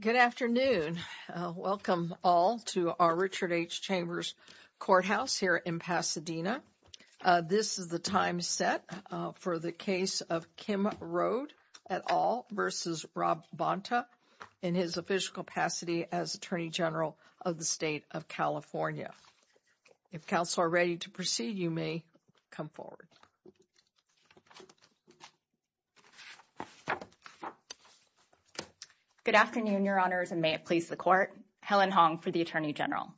Good afternoon. Welcome all to our Richard H. Chambers courthouse here in Pasadena. This is the time set for the case of Kim Rode et al. versus Rob Bonta in his official capacity as Attorney General of the State of California. If counsel are ready to proceed, you may come forward. Good afternoon, your honors, and may it please the court. Helen Hong for the Attorney General.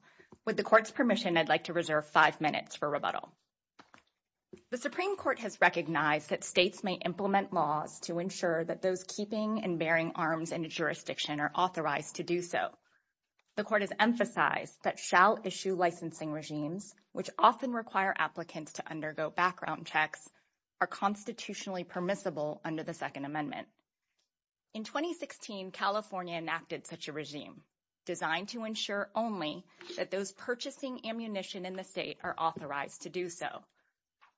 With the court's permission, I'd like to reserve five minutes for rebuttal. The Supreme Court has recognized that states may implement laws to ensure that those keeping and bearing arms in a jurisdiction are authorized to do so. The court has emphasized that shall issue licensing regimes, which often require applicants to undergo background checks, are constitutionally permissible under the Second Amendment. In 2016, California enacted such a regime designed to ensure only that those purchasing ammunition in the state are authorized to do so.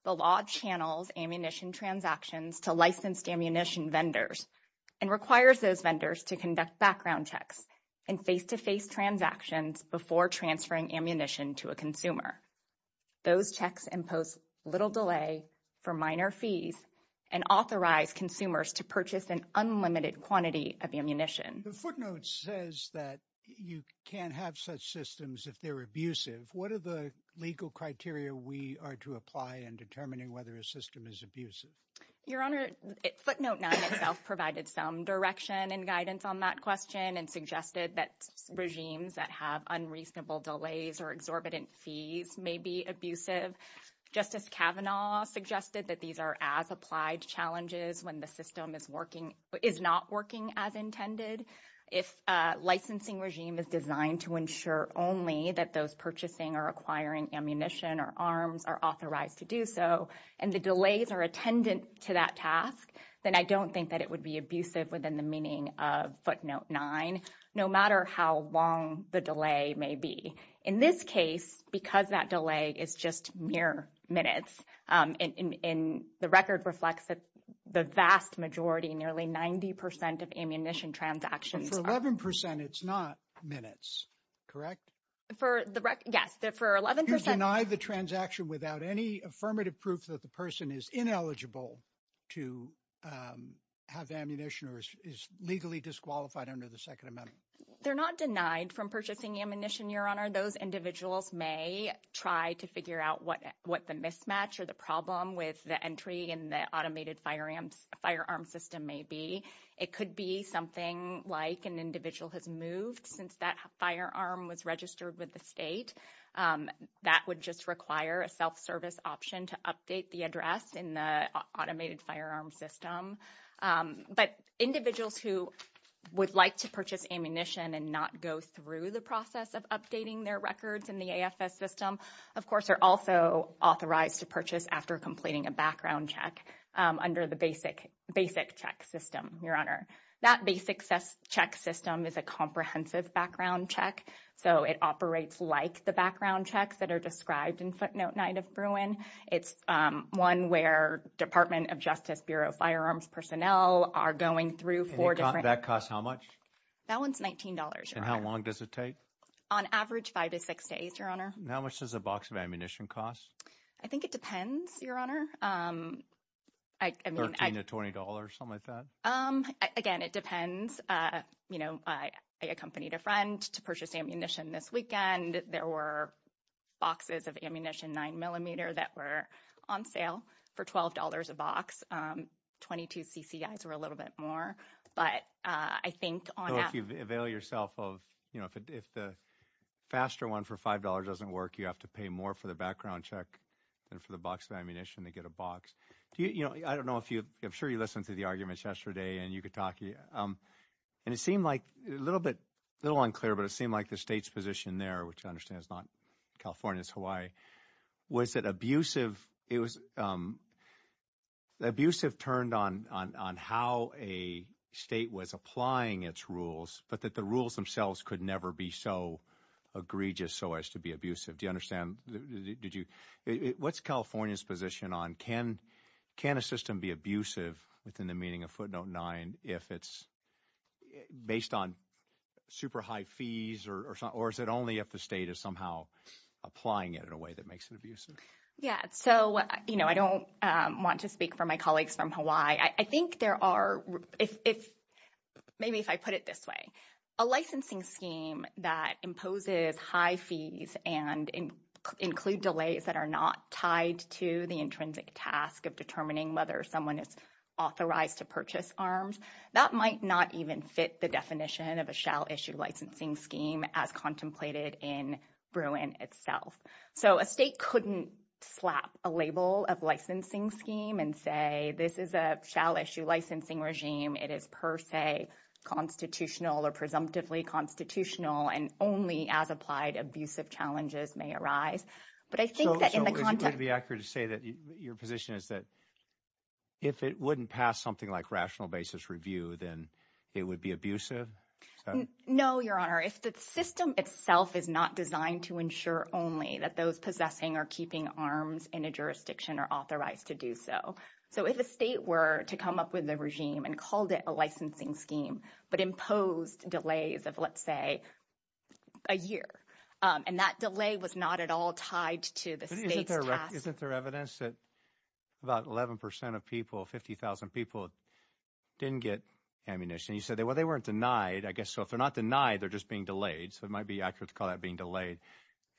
The law channels ammunition transactions to licensed ammunition vendors and requires those vendors to conduct background checks and face-to-face transactions before transferring ammunition to a consumer. Those checks impose little delay for minor fees and authorize consumers to purchase an unlimited quantity of ammunition. The footnote says that you can't have such systems if they're abusive. What are the legal criteria we are to apply in determining whether a system is abusive? Your honor, footnote 9 itself provided some direction and guidance on that question and suggested that regimes that have unreasonable delays or exorbitant fees may be abusive. Justice Kavanaugh suggested that these are as applied challenges when the system is not working as intended. If a licensing regime is designed to ensure only that those purchasing or acquiring ammunition or arms are authorized to do so and the delays are attendant to that task, then I don't think that it would be abusive within the meaning of footnote 9, no matter how long the delay may be. In this case, because that delay is just mere minutes and the record reflects that vast majority, nearly 90 percent of ammunition transactions. For 11 percent, it's not minutes, correct? Yes, for 11 percent. You've denied the transaction without any affirmative proof that the person is ineligible to have ammunition or is legally disqualified under the second amendment. They're not denied from purchasing ammunition, your honor. Those individuals may try to figure out what the mismatch or the problem with the entry in the automated firearm system may be. It could be something like an individual has moved since that firearm was registered with the state. That would just require a self-service option to update the address in the automated firearm system. But individuals who would like to purchase ammunition and not go through the process of updating their records in the AFS system, of course, are also authorized to purchase after completing a background check under the basic check system, your honor. That basic check system is a comprehensive background check, so it operates like the background checks that are described in footnote 9 of Bruin. It's one where Department of Justice Bureau of Firearms personnel are going through four different... That costs how much? That one's $19. And how long does it take? On average, five to six days, your honor. How much does a box of ammunition cost? I think it depends, your honor. $13 to $20, something like that? Again, it depends. You know, I accompanied a friend to purchase ammunition this weekend. There were boxes of 9mm that were on sale for $12 a box. 22 CCIs were a little bit more. But I think... So if you avail yourself of... If the faster one for $5 doesn't work, you have to pay more for the background check than for the box of ammunition to get a box. I don't know if you... I'm sure you listened to the arguments yesterday, and you could talk... And it seemed like... A little unclear, but it seemed like the state's position there, which I understand is not California, it's Hawaii, was that abusive... Abusive turned on how a state was applying its rules, but that the rules themselves could never be so egregious so as to be abusive. What's California's position on... Can a system be abusive within the meaning of footnote nine if it's based on super high fees, or is it only if the state is somehow applying it in a way that makes it abusive? Yeah. So I don't want to speak for my colleagues from Hawaii. I think there are... Maybe if I put it this way, a licensing scheme that imposes high fees and include delays that are not tied to the intrinsic task of determining whether someone is authorized to purchase arms, that might not even fit the definition of a shall issue licensing scheme as contemplated in Bruin itself. So a state couldn't slap a label of licensing scheme and say, this is a shall issue licensing regime. It is per se constitutional or presumptively constitutional and only as applied abusive challenges may arise. But I think that in the if it wouldn't pass something like rational basis review, then it would be abusive. No, Your Honor. If the system itself is not designed to ensure only that those possessing or keeping arms in a jurisdiction are authorized to do so. So if a state were to come up with a regime and called it a licensing scheme, but imposed delays of, let's say, a year, and that delay was not at all tied to the state's task. Isn't there evidence that about 11% of people, 50,000 people didn't get ammunition? You said they weren't denied, I guess. So if they're not denied, they're just being delayed. So it might be accurate to call that being delayed.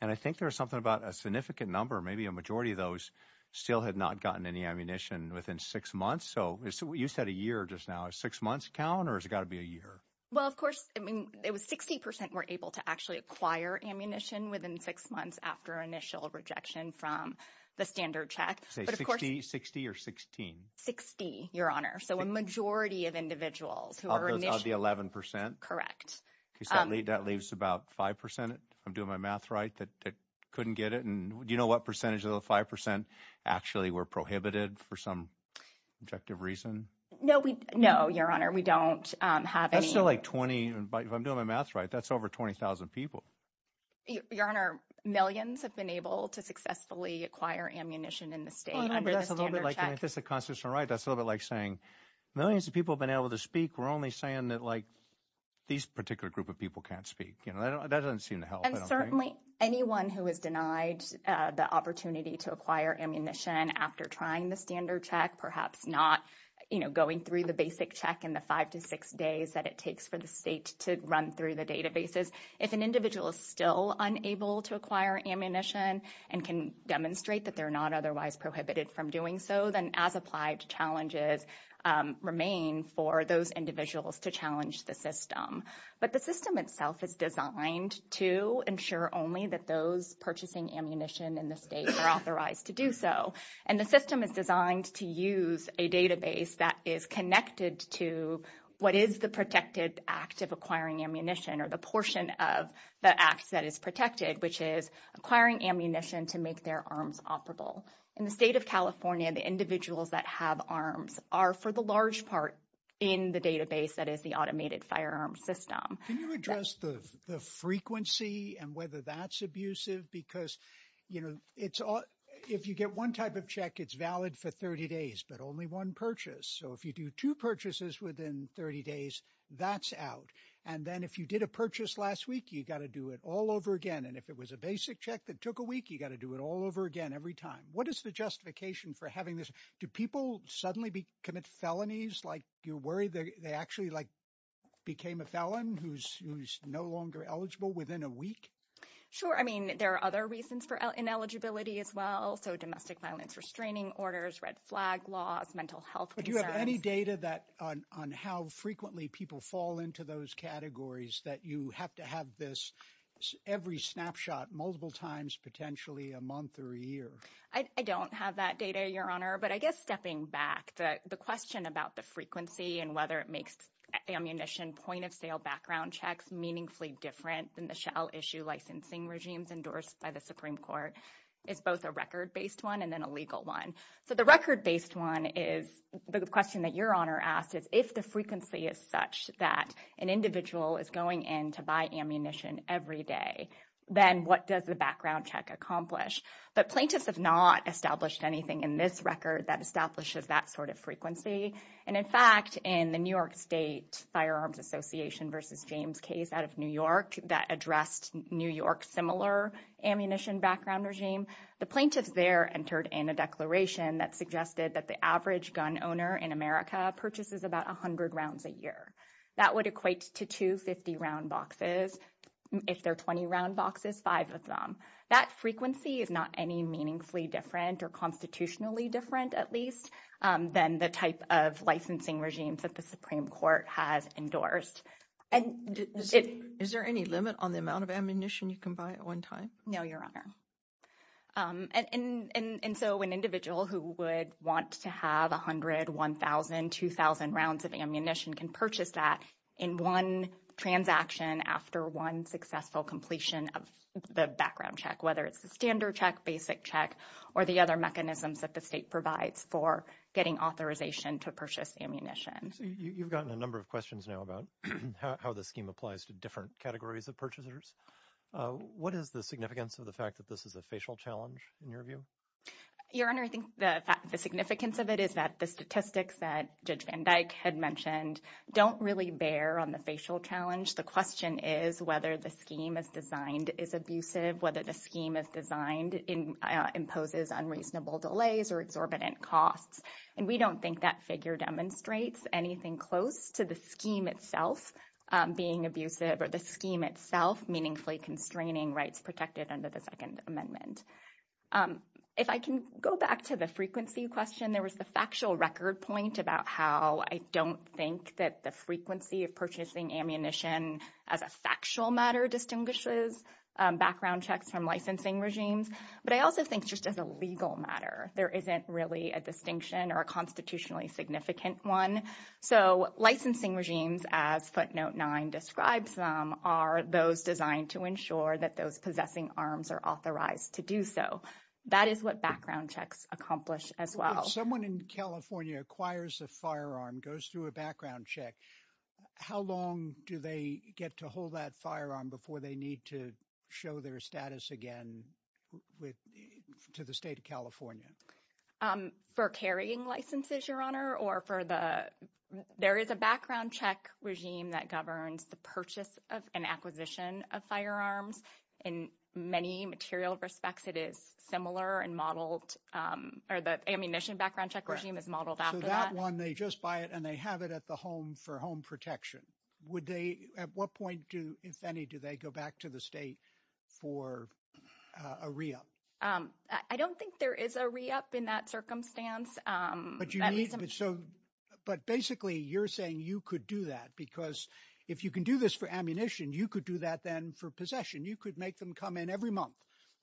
And I think there's something about a significant number, maybe a majority of those still had not gotten any ammunition within six months. So you said a year just now, six months count or has it got to be a year? Well, of course, I mean, it was 60% were able to actually acquire ammunition within six months after initial rejection from the standard check, but of course- 60, 60 or 16? 60, Your Honor. So a majority of individuals who were initially- Of the 11%? Correct. That leaves about 5%, if I'm doing my math right, that couldn't get it. And do you know what percentage of the 5% actually were prohibited for some objective reason? No, Your Honor, we don't have any- That's still like 20. If I'm doing my math right, that's over 20,000 people. Your Honor, millions have been able to successfully acquire ammunition in the state- That's a little bit like saying millions of people have been able to speak, we're only saying that these particular group of people can't speak. And certainly anyone who has denied the opportunity to acquire ammunition after trying the standard check, perhaps not going through the basic check in the five to six days that it takes for the state to run through the databases. If an individual is still unable to acquire ammunition and can demonstrate that they're not otherwise prohibited from doing so, then as applied challenges remain for those individuals to challenge the system. But the system itself is designed to ensure only that those purchasing ammunition in the state are authorized to do so. And the system is designed to use a database that is connected to what is protected act of acquiring ammunition or the portion of the act that is protected, which is acquiring ammunition to make their arms operable. In the state of California, the individuals that have arms are for the large part in the database that is the automated firearm system. Can you address the frequency and whether that's abusive? Because if you get one type of check, it's valid for 30 days, but only one purchase. So if you do two purchases within 30 days, that's out. And then if you did a purchase last week, you got to do it all over again. And if it was a basic check that took a week, you got to do it all over again every time. What is the justification for having this? Do people suddenly commit felonies? Like, do you worry that they actually like became a felon who's no longer eligible within a week? Sure. I mean, there are other reasons for ineligibility as well. So domestic violence restraining orders, red flag laws, mental health. Do you have any data that on how frequently people fall into those categories that you have to have this every snapshot multiple times, potentially a month or a year? I don't have that data, Your Honor. But I guess stepping back, the question about the frequency and whether it makes ammunition point of sale background checks meaningfully different than issue licensing regimes endorsed by the Supreme Court. It's both a record based one and then a legal one. So the record based one is the question that Your Honor asked is if the frequency is such that an individual is going in to buy ammunition every day, then what does the background check accomplish? But plaintiffs have not established anything in this record that establishes that sort of frequency. And in fact, in the New York State Firearms Association versus James case out of New York that addressed New York similar ammunition background regime, the plaintiff there entered in a declaration that suggested that the average gun owner in America purchases about 100 rounds a year. That would equate to 250 round boxes. If there are 20 round boxes, five of them. That frequency is not any meaningfully different or constitutionally different at least than the type of licensing regimes that the Supreme Court has endorsed. And is there any limit on the amount of ammunition you can buy at one time? No, Your Honor. And so an individual who would want to have 100, 1000, 2000 rounds of ammunition can purchase that in one transaction after one successful completion of the background check, whether it's a standard check, basic check or the other mechanisms that the state provides for getting authorization to purchase ammunition. You've gotten a number of questions now about how the scheme applies to different categories of purchasers. What is the significance of the fact that this is a facial challenge in your view? Your Honor, I think the significance of it is that the statistics that Judge Van Dyck had mentioned don't really bear on the facial challenge. The question is whether the scheme is designed is abusive, whether the scheme is designed in imposes unreasonable delays or exorbitant costs. And we don't think that figure demonstrates anything close to the scheme itself being abusive or the scheme itself meaningfully constraining rights protected under the Second Amendment. If I can go back to the frequency question, there was the factual record point about how I don't think that the frequency of purchasing ammunition as a factual matter distinguishes background checks from licensing regimes. But I also think just as a legal matter, there isn't really a distinction or a constitutionally significant one. So licensing regimes as footnote nine describes them are those designed to ensure that those possessing arms are authorized to do so. That is what background checks accomplish as well. If someone in California acquires a firearm, goes through a background check, how long do they get to hold that firearm before they need to show their status again with to the state of California? For carrying licenses, your honor, or for the there is a background check regime that governs the purchase of an acquisition of firearms. In many material respects, it is similar and modeled or the ammunition background check regime is modeled after that one. They just buy it and they have it at the home for home protection. Would they, at what point do, if any, do they go back to the state for a re-up? I don't think there is a re-up in that circumstance. But basically you're saying you could do that because if you can do this for ammunition, you could do that then for possession. You could make them come in every month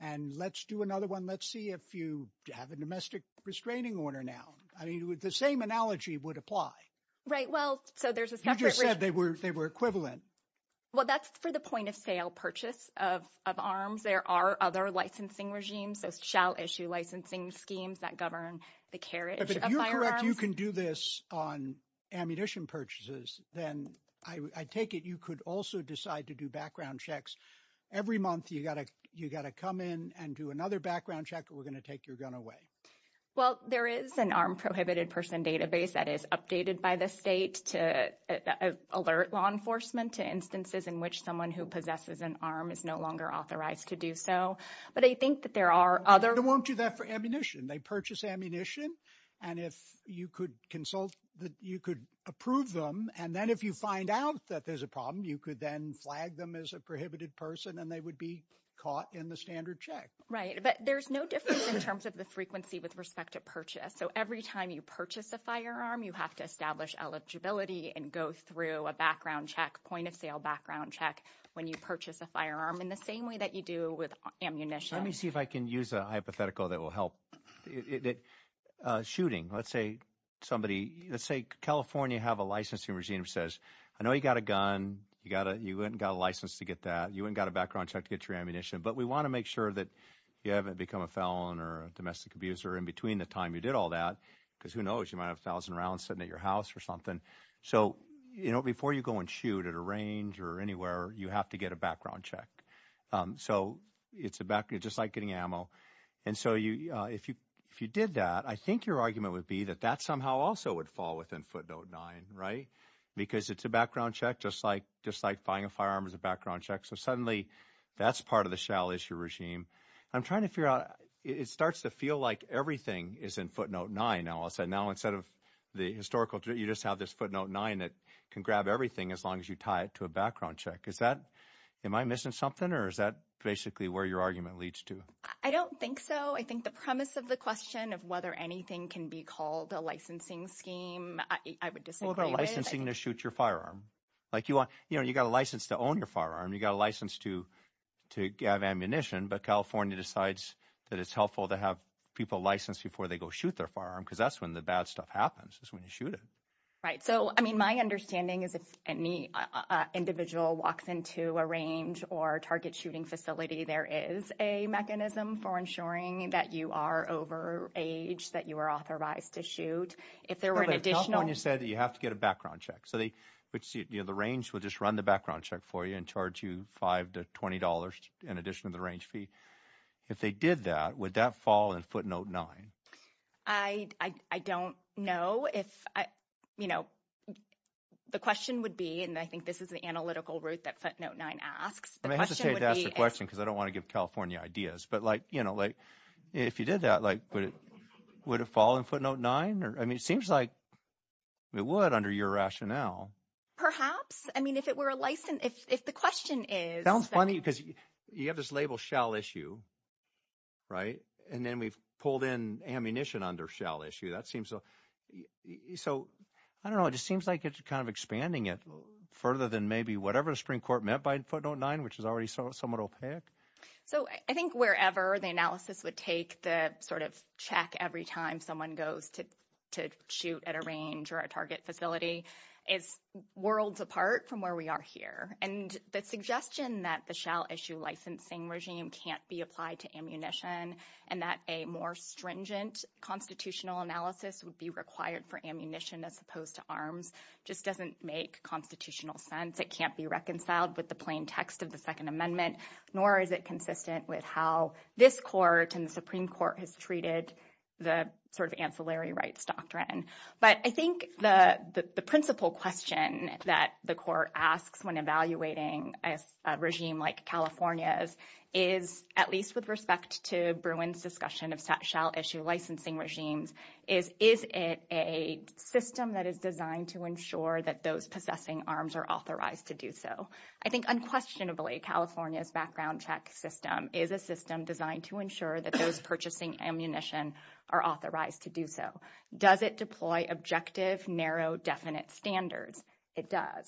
and let's do another one. Let's see if you have a domestic restraining order now. I mean, the same analogy would apply. Right. Well, so there's a separate- You just said they were equivalent. Well, that's for the point of sale purchase of arms. There are other licensing regimes that shall issue licensing schemes that govern the carriage of firearms. But if you're correct, you can do this on ammunition purchases, then I take it you could also decide to do background checks. Every month you got to come in and do another background check or we're going to take your gun away. Well, there is an armed prohibited person database that is updated by the state to alert law enforcement to instances in which someone who possesses an arm is no longer authorized to do so. But I think that there are other- They won't do that for ammunition. They purchase ammunition. And if you could consult, you could approve them. And then if you find out that there's a problem, you could then flag them as a prohibited person and they would be caught in the standard check. Right. But there's no difference in terms of the frequency with respect to purchase. So every time you purchase a firearm, you have to establish eligibility and go through a background check, point of sale background check when you purchase a firearm in the same way that you do with ammunition. Let me see if I can use a hypothetical that will help. Shooting, let's say somebody- Let's say California have a licensing regime that says, I know you got a gun. You went and got a license to get that. You went and got a background check to get your ammunition. But we want to make sure that you haven't become a felon or a domestic abuser in between the time you did all that, because who knows, you might have a thousand rounds sitting at your house or something. So before you go and shoot at a range or anywhere, you have to get a background check. So it's just like getting ammo. And so if you did that, I think your argument would be that that somehow also would fall within footnote nine, right? Because it's a background check, just like buying a firearm is a background check. So suddenly that's part of the shell issue regime. I'm trying to figure out, it starts to feel like everything is in footnote nine. Now instead of the historical, you just have this footnote nine that can grab everything as long as you tie it to a background check. Is that, am I missing something, or is that basically where your argument leads to? I don't think so. I think the premise of the question of whether anything can be called a licensing scheme, I would disagree with it. Well, they're licensing to shoot your firearm. You got a license to own your firearm. You got a license to have ammunition, but California decides that it's helpful to have people licensed before they go shoot their firearm, because that's when the bad stuff happens, is when you shoot it. Right. So, I mean, my understanding is if any individual walks into a range or target shooting facility, there is a mechanism for ensuring that you are over age, that you are authorized to shoot. If there were an additional- California said that you have to get a background check. So the range will just run the background check for you and charge you five to twenty dollars in addition to the range fee. If they did that, would that fall in footnote nine? I don't know if, you know, the question would be, and I think this is the analytical route that footnote nine asks, the question would be- I hesitate to ask the question because I don't want to give California ideas, but like, you know, if you did that, would it fall in footnote nine? I mean, it seems like it would under your rationale. Perhaps. I mean, if it were a license, if the question is- Sounds funny because you have this label shell issue, right? And then we've pulled in ammunition under shell issue. That seems so- So, I don't know. It just seems like it's kind of expanding it further than maybe whatever the Supreme Court meant by footnote nine, which is already somewhat opaque. So, I think wherever the analysis would take the sort of check every time someone goes to shoot at a range or a target facility, it's worlds apart from where we are here. And the suggestion that the shell issue licensing regime can't be applied to ammunition and that a more stringent constitutional analysis would be required for ammunition as opposed to arms just doesn't make constitutional sense. It can't be reconciled with the plain text of the Second Amendment, nor is it consistent with how this court and the Supreme Court has treated the sort of ancillary rights doctrine. But I think the principal question that the court asks when evaluating a regime like California's is, at least with respect to Bruin's discussion of shell issue licensing regimes, is it a system that is designed to ensure that those possessing arms are authorized to do so? I think unquestionably, California's background check is a system designed to ensure that those purchasing ammunition are authorized to do so. Does it deploy objective, narrow, definite standards? It does.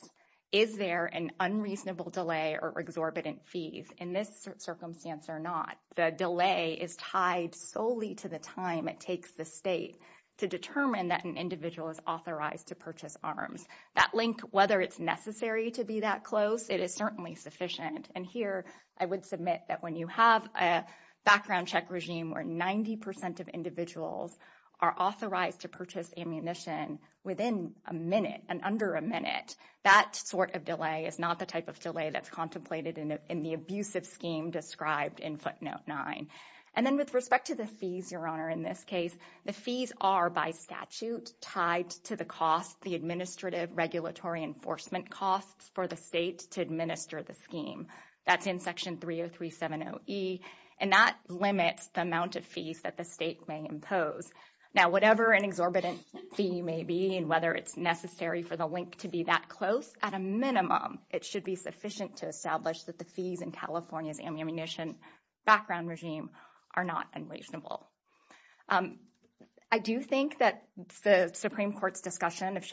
Is there an unreasonable delay or exorbitant fees? In this circumstance or not, the delay is tied solely to the time it takes the state to determine that an individual is authorized to purchase arms. That length, whether it's necessary to be that close, it is certainly sufficient. And here, I would submit that when you have a background check regime where 90 percent of individuals are authorized to purchase ammunition within a minute, and under a minute, that sort of delay is not the type of delay that's contemplated in the abusive scheme described in footnote nine. And then with respect to the fees, Your Honor, in this case, the fees are by statute tied to the cost, the administrative regulatory enforcement costs for the state to administer the scheme. That's in section 30370E, and that limits the amount of fees that the state may impose. Now, whatever an exorbitant fee may be and whether it's necessary for the link to be that close, at a minimum, it should be sufficient to establish that the fees in California's ammunition background regime are not unreasonable. I do think that the Supreme Court's discussion of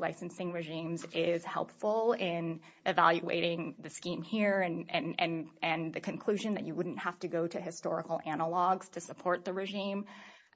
licensing regimes is helpful in evaluating the scheme here and the conclusion that you wouldn't have to go to historical analogs to support the regime.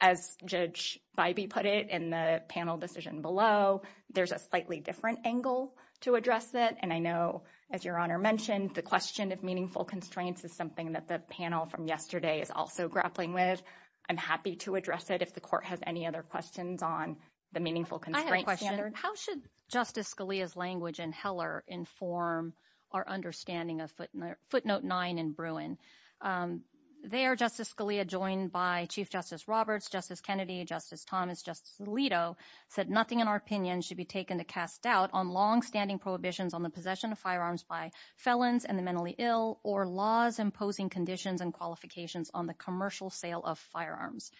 As Judge Bybee put it in the panel decision below, there's a slightly different angle to address it. And I know, as Your Honor mentioned, the question of meaningful constraints is something that the panel from yesterday is also grappling with. I'm happy to address it if the Court has any other questions on the meaningful constraint standard. I have a question. How should Justice Scalia's language in Heller inform our understanding of footnote 9 in Bruin? There, Justice Scalia, joined by Chief Justice Roberts, Justice Kennedy, Justice Thomas, Justice Alito, said nothing in our opinion should be taken to cast doubt on longstanding prohibitions on the possession of firearms by felons and the mentally ill or laws imposing conditions and qualifications on the commercial sale of firearms.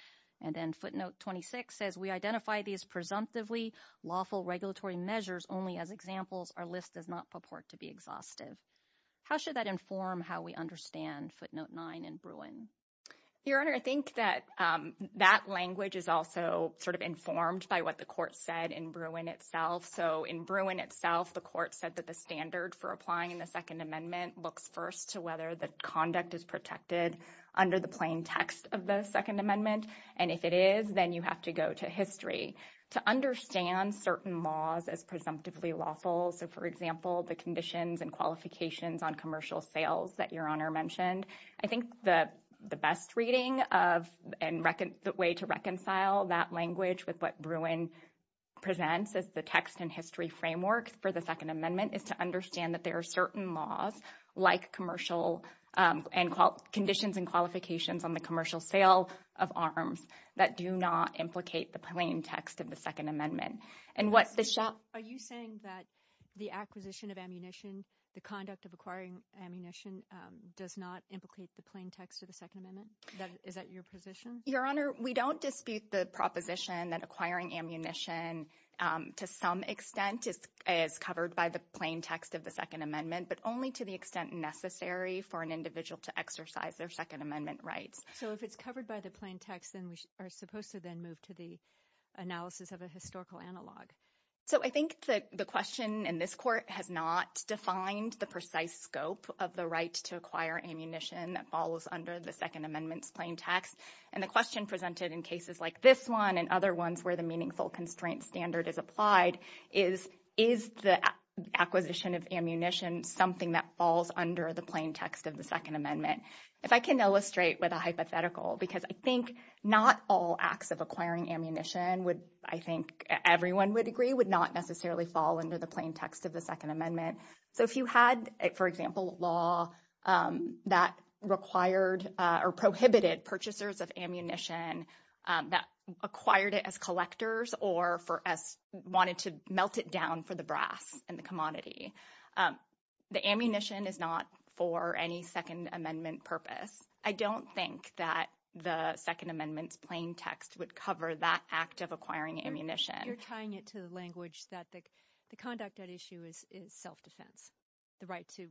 And then footnote 26 says we identify these presumptively lawful regulatory measures only as examples our list does not purport to be exhaustive. How should that inform how we understand footnote 9 in Bruin? Your Honor, I think that that language is also sort of informed by what the Court said in Bruin itself. So in Bruin itself, the Court said that the standard for applying the Second Amendment looks first to whether the conduct is protected under the plain text of the Second Amendment, and if it is, then you have to go to history. To understand certain laws as presumptively lawful, so for example, the conditions and qualifications on commercial sales that Your Honor mentioned, I think the best reading of and the way to reconcile that language with what Bruin presents as the text and history framework for the Second Amendment is to understand that there are certain laws like conditions and qualifications on the commercial sale of arms that do not implicate the plain text of the Second Amendment. Are you saying that the acquisition of ammunition, the conduct of acquiring ammunition, does not implicate the plain text of the Second Amendment? Is that your position? Your Honor, we don't dispute the proposition that acquiring ammunition to some extent is covered by the plain text of the Second Amendment, but only to the extent necessary for an individual to exercise their Second Amendment rights. So if it's covered by the plain text, then we are supposed to then move to the analysis of a historical analog. So I think that the question in this Court has not defined the precise scope of the right to acquire ammunition that falls under the Second Amendment's plain text, and the question presented in cases like this one and other ones where the meaningful constraint standard is applied is, is the acquisition of ammunition something that falls under the plain text of the Second Amendment? If I can illustrate with a hypothetical, because I think not all acts of acquiring ammunition would, I think everyone would agree, would not necessarily fall under the plain text of the Second Amendment. So if you had, for example, law that required or prohibited purchasers of ammunition that acquired it as collectors or wanted to melt it down for the brass and the commodity, the ammunition is not for any Second Amendment purpose. I don't think that the Second Amendment's plain text would cover that act of acquiring ammunition. You're tying it to the language that the conduct at issue is self-defense, the right to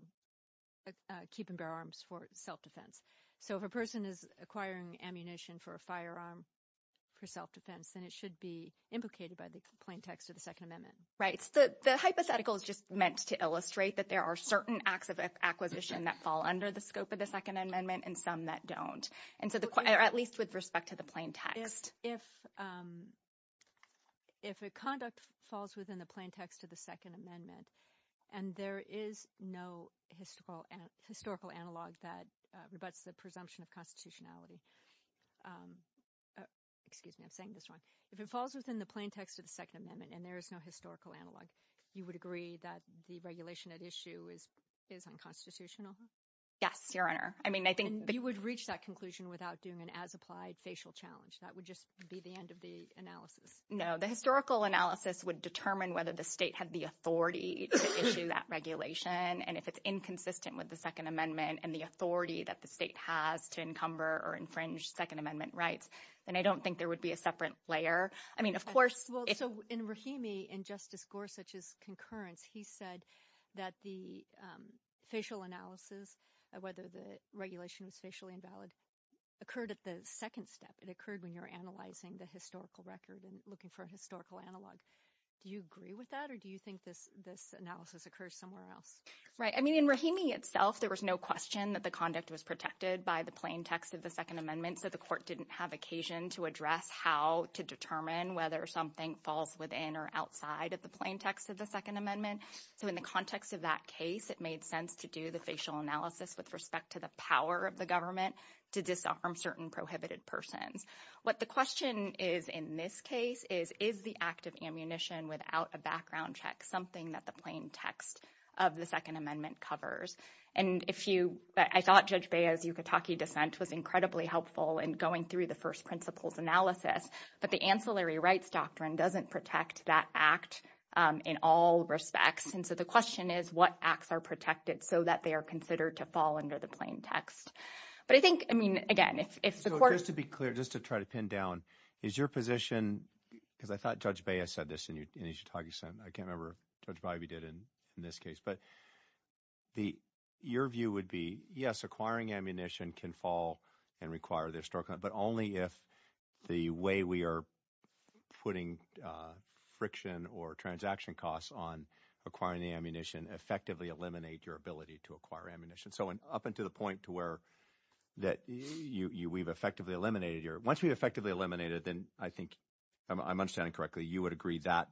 keep and bear arms for self-defense. So if a person is acquiring ammunition for a firearm for self-defense, then it should be implicated by the plain text of the Second Amendment. Right. So the hypothetical is just meant to illustrate that there are certain acts of acquisition that fall under the scope of the Second Amendment and some that don't, and so the, at least with respect to the plain text. If the conduct falls within the plain text of the Second Amendment and there is no historical analog that rebuts the presumption of constitutionality, excuse me, I'm saying this wrong. If it falls within the plain text of the Second Amendment and there is no historical analog, you would agree that the regulation at issue is unconstitutional? Yes, Your Honor. I mean, I think you would reach that conclusion without doing an as-applied facial challenge. That would just be the end of the analysis. No, the historical analysis would determine whether the state had the authority to issue that regulation, and if it's inconsistent with the Second Amendment and the authority that the state has to encumber or infringe Second Amendment rights, then I don't think there would be a separate layer. I mean, of course, well, in Rahimi and Justice Gorsuch's concurrence, he said that the facial analysis, whether the regulation is facially invalid, occurred at the second step. It occurred when you're analyzing the historical record and looking for historical analogs. Do you agree with that, or do you think this analysis occurs somewhere else? Right. I mean, in Rahimi itself, there was no question that the conduct was protected by the plain text of the Second Amendment, so the court didn't have occasion to address how to determine whether something falls within or outside of the plain text of the Second Amendment. So in the context of that case, it made sense to do the facial analysis with respect to the power of the government to disarm certain prohibited persons. What the question is in this case is, is the act of ammunition without a background check something that the plain text of the Second Amendment covers? And if you, I thought Judge Beah's Yucatanki defense was incredibly helpful in going through the first principles analysis, but the ancillary rights doctrine doesn't protect that act in all respects, and so the question is, what acts are protected so that they are considered to fall under the plain text? But I think, I mean, again, if the court... So just to be clear, just to try to pin down, is your position, because I thought Judge Beah said this in his Yucatanki sentence, I can't remember if Judge Beah did in this case, but your view would be, yes, acquiring ammunition can fall and require the historical, but only if the way we are putting friction or transaction costs on acquiring the ammunition effectively eliminate your ability to acquire ammunition. So up until the point to where that we've effectively eliminated, once we've effectively eliminated, then I think I'm understanding correctly, you would agree that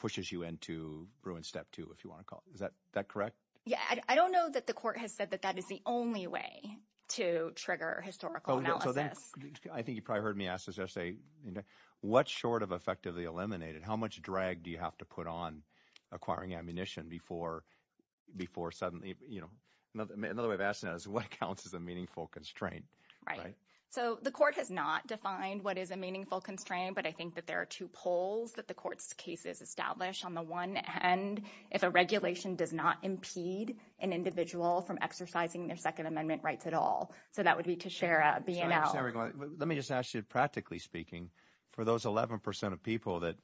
pushes you into ruin step two, if you want to call it, is that correct? Yeah, I don't know that the court has said that that is the only way to trigger historical analysis. I think you probably heard me ask this essay, what's short of effectively eliminated? How much drag do you have to put on acquiring ammunition before suddenly... Another way of asking that is, what counts as a meaningful constraint, right? Right. So the court has not defined what is a meaningful constraint, but I think that there are two poles that the court's case is established on the one hand, if a regulation does not impede an individual from exercising their Second Amendment rights at all. So that would be to share a B&L. Let me just ask you, practically speaking, for those 11% of people that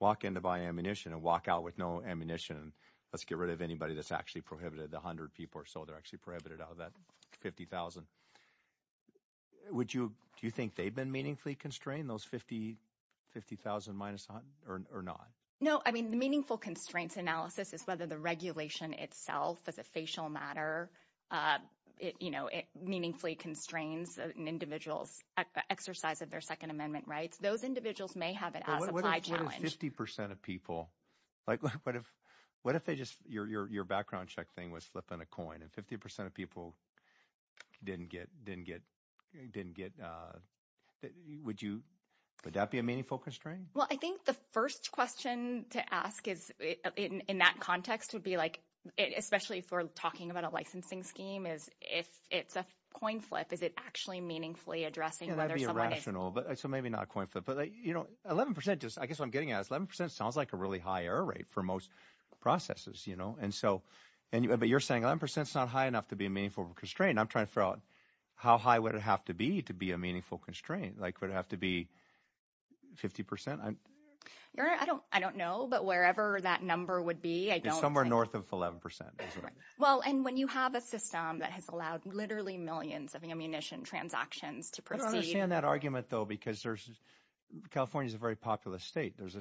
walk in to buy ammunition and walk out with no ammunition, let's get rid of anybody that's actually prohibited, the 100 people or so that are actually prohibited out of that 50,000, do you think they've been meaningfully constrained, those 50,000 minus 100 or not? No, I mean, the meaningful constraints analysis is whether the regulation itself as a facial matter, it meaningfully constrains an individual's exercise of their Second Amendment rights. Those individuals may have it as a by challenge. What if 50% of people... What if they just... Your background check thing was flip on a coin, and 50% of people didn't get... Would that be a meaningful constraint? Well, I think the first question to ask in that context would be, especially if we're talking about a licensing scheme, is if it's a coin flip, is it actually meaningfully addressing... Can that be irrational? So maybe not a coin flip, but 11%, I guess what I'm getting at is 11% sounds like a really high error rate for most processes. But you're saying 11% is not high enough to be a meaningful constraint. I'm trying to figure out how high would it have to be to be meaningful constraint? Would it have to be 50%? I don't know, but wherever that number would be, I don't think... Somewhere north of 11%. Well, and when you have a system that has allowed literally millions of ammunition transactions to proceed... I don't understand that argument, though, because California is a very populous state. There's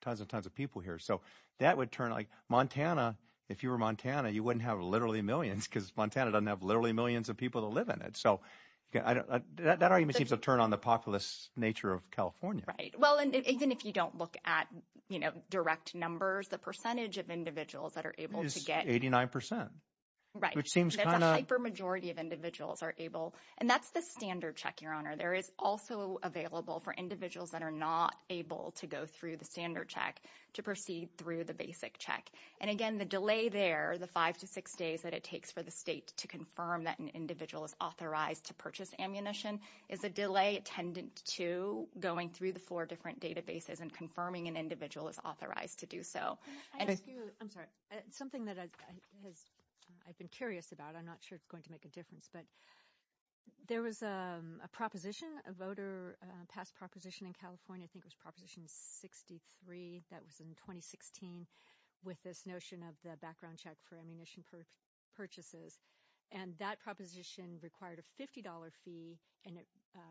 tons and tons of people here. So that would turn... Montana, if you were Montana, you wouldn't have literally millions because Montana doesn't have literally millions of people that live in it. So that argument seems to turn on the populous nature of California. Right. Well, and even if you don't look at direct numbers, the percentage of individuals that are able to get... Is 89%. Right. Which seems kind of... The hyper majority of individuals are able... And that's the standard check, Your Honor. There is also available for individuals that are not able to go through the standard check to proceed through the basic check. And again, the delay there, the five to six days that it takes for the state to confirm that an individual is authorized to purchase ammunition, is a delay tended to going through the four different databases and confirming an individual is authorized to do so. I have a few... I'm sorry. Something that I've been curious about. I'm not sure it's going to make a difference, but there was a proposition, a voter... A past proposition in California, I think it was notion of the background check for ammunition purchases. And that proposition required a $50 fee and it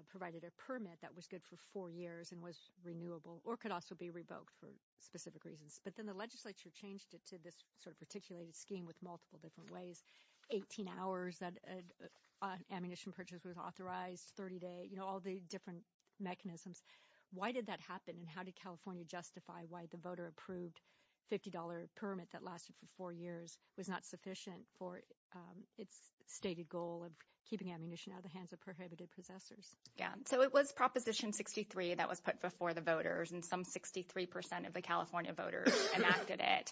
provided a permit that was good for four years and was renewable or could also be revoked for specific reasons. But then the legislature changed it to this sort of articulated scheme with multiple different ways, 18 hours that an ammunition purchase was authorized, 30 day, all the different mechanisms. Why did that happen? And how did California justify why the voter approved $50 permit that lasted for four years was not sufficient for its stated goal of keeping ammunition out of the hands of prohibited possessors? Yeah. So it was Proposition 63 that was put before the voters and some 63% of the California voters enacted it.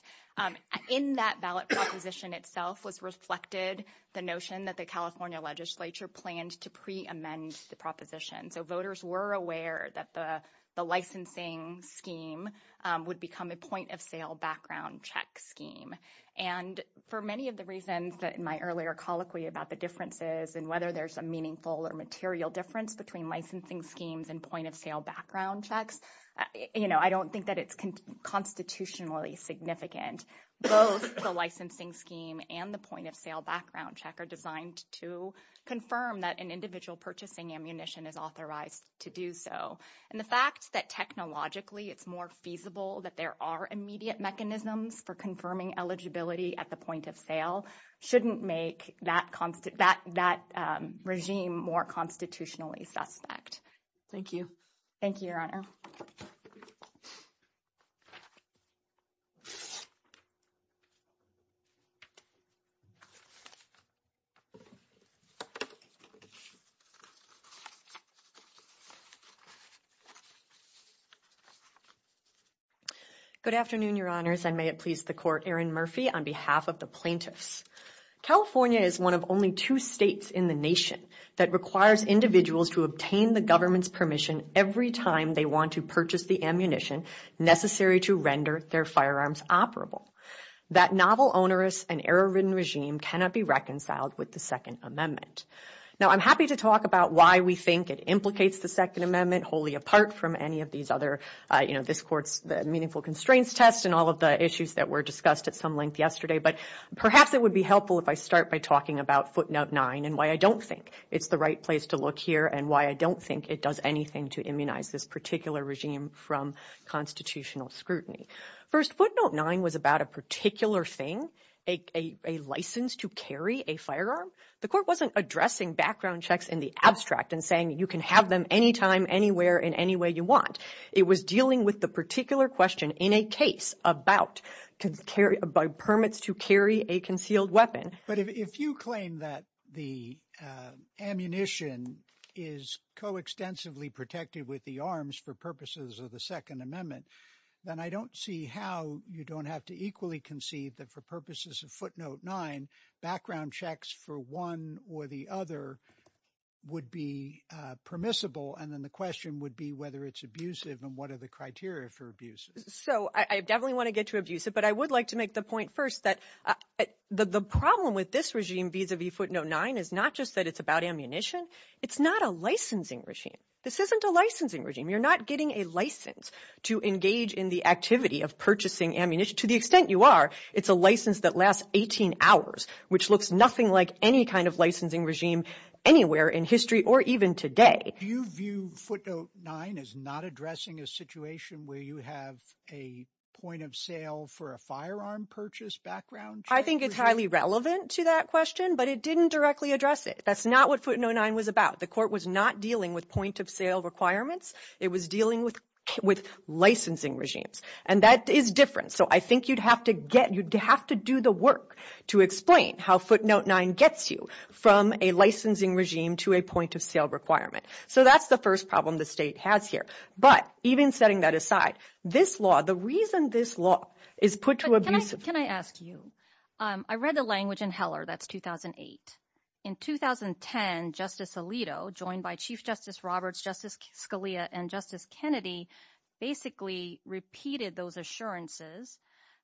In that ballot proposition itself was reflected the notion that the California legislature planned to pre-amend the proposition. So voters were aware that the licensing scheme would become a point of sale background check scheme. And for many of the reasons that in my earlier colloquy about the differences and whether there's a meaningful or material difference between licensing schemes and point of sale background checks, I don't think that it's constitutionally significant. Both the licensing scheme and the point of sale background check are designed to confirm that individual purchasing ammunition is authorized to do so. And the fact that technologically it's more feasible that there are immediate mechanisms for confirming eligibility at the point of sale shouldn't make that regime more constitutionally suspect. Thank you. Thank you, Your Honor. Good afternoon, Your Honors, and may it please the Court, Erin Murphy on behalf of the plaintiffs. California is one of only two states in the nation that requires individuals to obtain the government's permission every time they want to purchase the ammunition necessary to render their firearms operable. That novel, onerous, and error-ridden regime cannot be reconciled with the Second Amendment. Now I'm happy to hear from you, but I'm not going to be able to answer all of your questions. I'm happy to talk about why we think it implicates the Second Amendment wholly apart from any of these other, you know, this Court's meaningful constraints tests and all of the issues that were discussed at some length yesterday, but perhaps it would be helpful if I start by talking about Footnote 9 and why I don't think it's the right place to look here and why I don't think it does anything to immunize this particular regime from constitutional scrutiny. First, Footnote 9 was about a particular thing, a license to carry a firearm. The Court wasn't addressing background checks in the abstract and saying you can have them anytime, anywhere, in any way you want. It was dealing with the particular question in a case about permits to carry a concealed weapon. But if you claim that the ammunition is co-extensively protected with the arms for purposes of the Second Amendment, then I don't see how you don't have to equally concede that for purposes of Footnote 9, background checks for one or the other would be permissible, and then the question would be whether it's abusive and what are the criteria for abuse. So I definitely want to get to abuse it, but I would like to make the point first that the problem with this regime vis-a-vis Footnote 9 is not just that it's about ammunition. It's not a licensing regime. This isn't a licensing regime. You're not getting a license to engage in the activity of purchasing ammunition. To the 18 hours, which looks nothing like any kind of licensing regime anywhere in history or even today. Do you view Footnote 9 as not addressing a situation where you have a point of sale for a firearm purchase background check? I think it's highly relevant to that question, but it didn't directly address it. That's not what Footnote 9 was about. The Court was not dealing with point of sale requirements. It was dealing with licensing regimes, and that is different. So I think you'd have to do the work to explain how Footnote 9 gets you from a licensing regime to a point of sale requirement. So that's the first problem the state has here, but even setting that aside, this law, the reason this law is put to abuse. Can I ask you, I read the language in Heller, that's 2008. In 2010, Justice Alito joined by Chief Justice Roberts, Justice Scalia, and Justice Kennedy basically repeated those assurances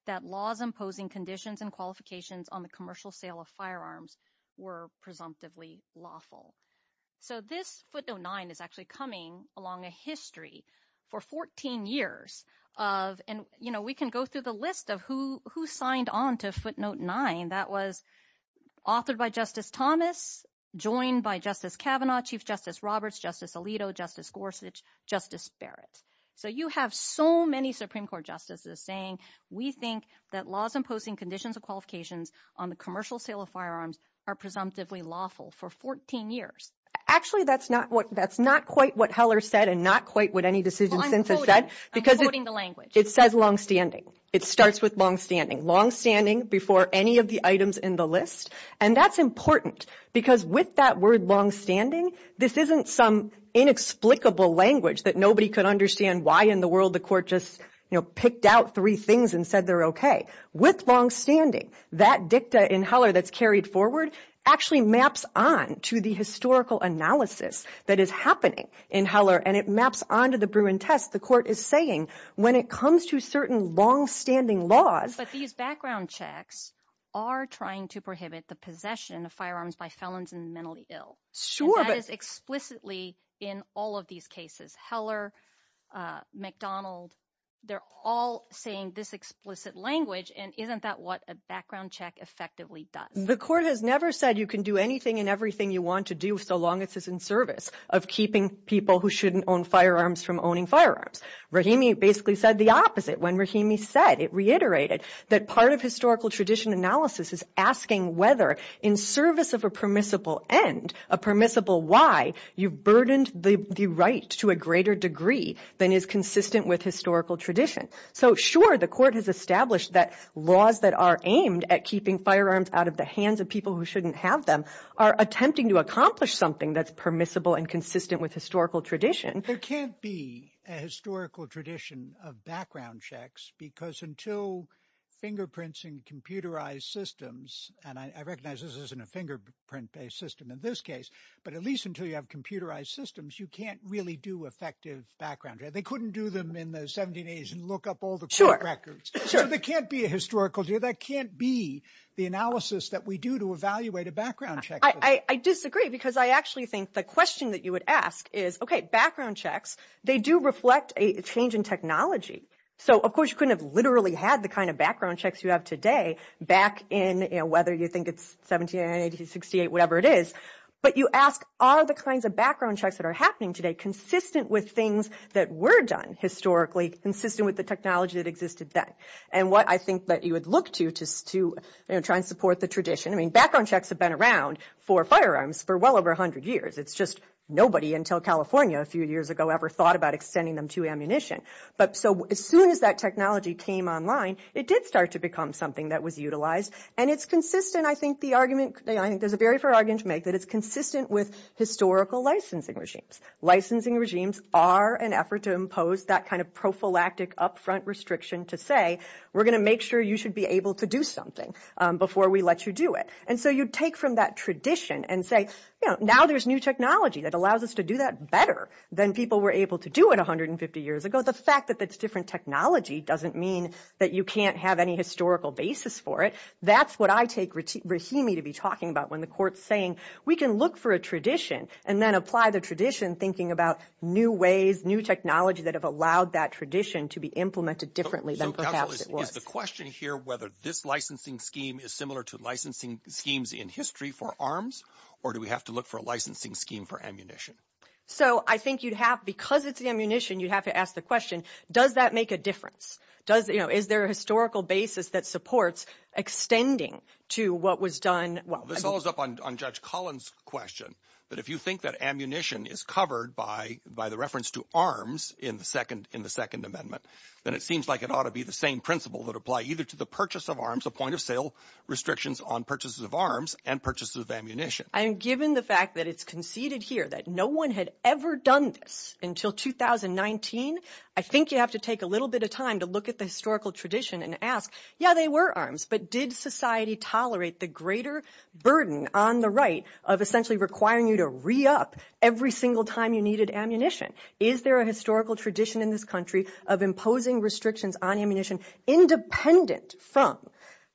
that laws imposing conditions and qualifications on the commercial sale of firearms were presumptively lawful. So this Footnote 9 is actually coming along a history for 14 years of, and we can go through the list of who signed on to Footnote 9. That was authored by Justice Thomas, joined by Justice Kavanaugh, Chief Justice Roberts, Justice Alito, Justice Gorsuch, Justice Barrett. So you have so many Supreme Court justices saying, we think that laws imposing conditions and qualifications on the commercial sale of firearms are presumptively lawful for 14 years. Actually, that's not quite what Heller said and not quite what any decision census said. I'm quoting the language. It says longstanding. It starts with longstanding. Longstanding before any of the items in the list, and that's important because with that word longstanding, this isn't some inexplicable language that nobody could understand why in the world the court just picked out three things and said they're okay. With longstanding, that dicta in Heller that's carried forward actually maps on to the historical analysis that is happening in Heller, and it maps onto the Bruin test. The court is saying when it comes to certain longstanding laws. But these background checks are trying to prohibit the possession of firearms by felons and mentally ill. That is explicitly in all of these cases. Heller, McDonald, they're all saying this explicit language, and isn't that what a background check effectively does? The court has never said you can do anything and everything you want to do so long as it's in service of keeping people who shouldn't own firearms from owning firearms. Rahimi basically said the opposite. When Rahimi said, it reiterated that part of historical tradition analysis is asking whether in service of a permissible end, a permissible why, you've burdened the right to a greater degree than is consistent with historical tradition. So sure, the court has established that laws that are aimed at keeping firearms out of the hands of people who shouldn't have them are attempting to accomplish something that's permissible and consistent with historical tradition. There can't be a historical tradition of background checks because until fingerprints in computerized systems, and I recognize this isn't a fingerprint-based system in this case, but at least until you have computerized systems, you can't really do effective background check. They couldn't do them in the 1780s and look up all the records. So there can't be a historical view. There can't be the analysis that we do to evaluate a background check. I disagree because I actually think the question that you would ask is, okay, background checks, they do reflect a change in technology. So of course, you couldn't have literally had the kind of background checks you have today back in, whether you think it's 1780, 1868, whatever it is, but you ask, are the kinds of background checks that are happening today consistent with things that were done historically, consistent with the technology that existed then? And what I think that you would look to just to try and support the tradition. I mean, background checks have been around for firearms for well over a hundred years. It's just nobody until California a few years ago ever thought about extending them to ammunition. But so as soon as that technology came online, it did start to become something that was utilized and it's consistent. I think there's a very fair argument to make that it's consistent with historical licensing regimes. Licensing regimes are an effort to impose that kind of prophylactic upfront restriction to say, we're going to make sure you should be able to do something before we let you do it. And so you take from that tradition and say, now there's new technology that allows us to do that better than people were able to do it 150 years ago. The fact that that's different technology doesn't mean that you can't have any historical basis for it. That's what I take Rahimi to be talking about when the court's saying, we can look for a tradition and then apply the tradition thinking about new ways, new technology that have allowed that tradition to be implemented differently than the question here, whether this licensing scheme is similar to licensing schemes in history for arms, or do we have to look for a licensing scheme for ammunition? So I think you'd have, because it's the ammunition, you'd have to ask the question, does that make a difference? Does, you know, is there a historical basis that supports extending to what was done? Well, This follows up on Judge Collins question, but if you think that ammunition is covered by by the reference to arms in the second, in the second amendment, then it seems like it ought to be the same principle that apply either to the purchase of arms, the point of sale restrictions on purchases of arms and purchases of ammunition. And given the fact that it's conceded here that no one had ever done this until 2019, I think you have to take a little bit of time to look at the historical tradition and ask, yeah, they were arms, but did society tolerate the greater burden on the right of essentially requiring you to re-up every single time you needed ammunition? Is there a historical tradition in this country of imposing restrictions on ammunition independent from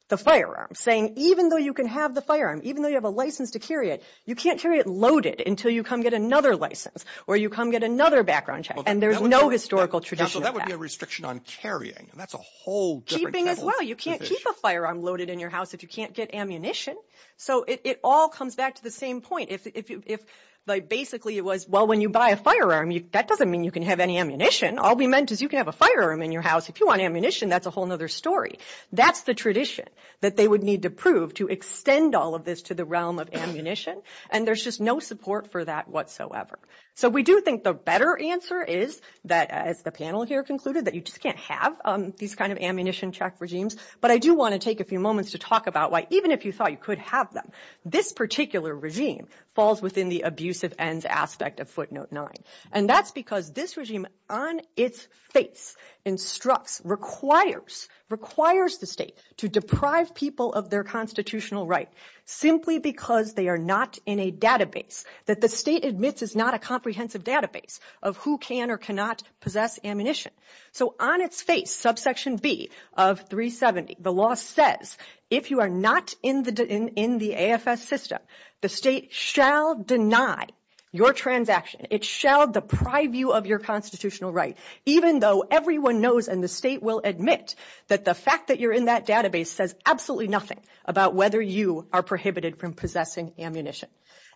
the firearm saying, even though you can have the firearm, even though you have a license to carry it, you can't carry it loaded until you get another license or you come get another background check. And there's no historical tradition that would be a restriction on carrying. And that's a whole keeping as well. You can't keep a firearm loaded in your house if you can't get ammunition. So it all comes back to the same point. If, if, if like basically it was, well, when you buy a firearm, that doesn't mean you can have any ammunition. All we meant is you can have a firearm in your house. If you want ammunition, that's a whole nother story. That's the tradition that they would need to prove to extend all of this to the realm of ammunition. And there's just no support for that whatsoever. So we do think the better answer is that, as the panel here concluded, that you just can't have these kinds of ammunition check regimes. But I do want to take a few moments to talk about why, even if you thought you could have them, this particular regime falls within the abuse of ends aspect of footnote nine. And that's because this regime on its face instructs, requires, requires the state to deprive people of their constitutional rights simply because they are not in a database that the state admits is not a comprehensive database of who can or cannot possess ammunition. So on its face, subsection B of 370, the law says, if you are not in the, in the AFS system, the state shall deny your transaction. It shall deprive you of your constitutional rights, even though everyone knows and the state will admit that the fact that you're in that database says absolutely nothing about whether you are prohibited from possessing ammunition.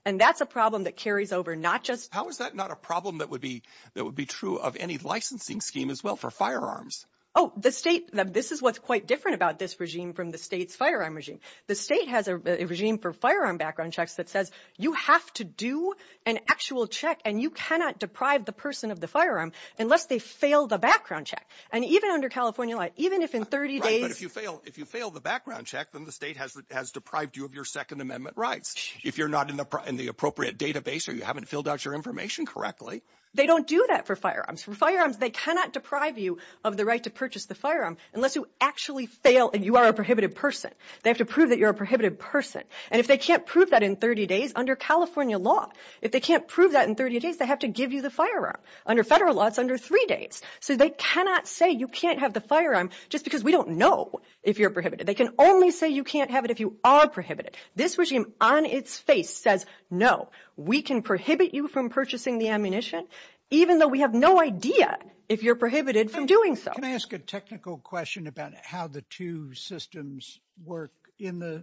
And that's a problem that carries over, not just... How is that not a problem that would be, that would be true of any licensing scheme as well for firearms? Oh, the state, this is what's quite different about this regime from the state's firearm regime. The state has a regime for firearm background checks that says, you have to do an actual check and you cannot deprive the person of the firearm unless they fail the background check. And even under California law, even if in 30 days... If you fail the background check, then the state has deprived you of your Second Amendment rights. If you're not in the appropriate database or you haven't filled out your information correctly... They don't do that for firearms. For firearms, they cannot deprive you of the right to purchase the firearm unless you actually fail and you are a prohibited person. They have to prove that you're a prohibited person. And if they can't prove that in 30 days, under California law, if they can't prove that in 30 days, they have to give you the firearm. Under federal law, it's under three days. So they cannot say you can't have the firearm just because we don't know if you're prohibited. They can only say you can't have it if you are prohibited. This regime on its face says, no, we can prohibit you from purchasing the ammunition even though we have no idea if you're prohibited from doing so. Can I ask a technical question about how the two systems work? In the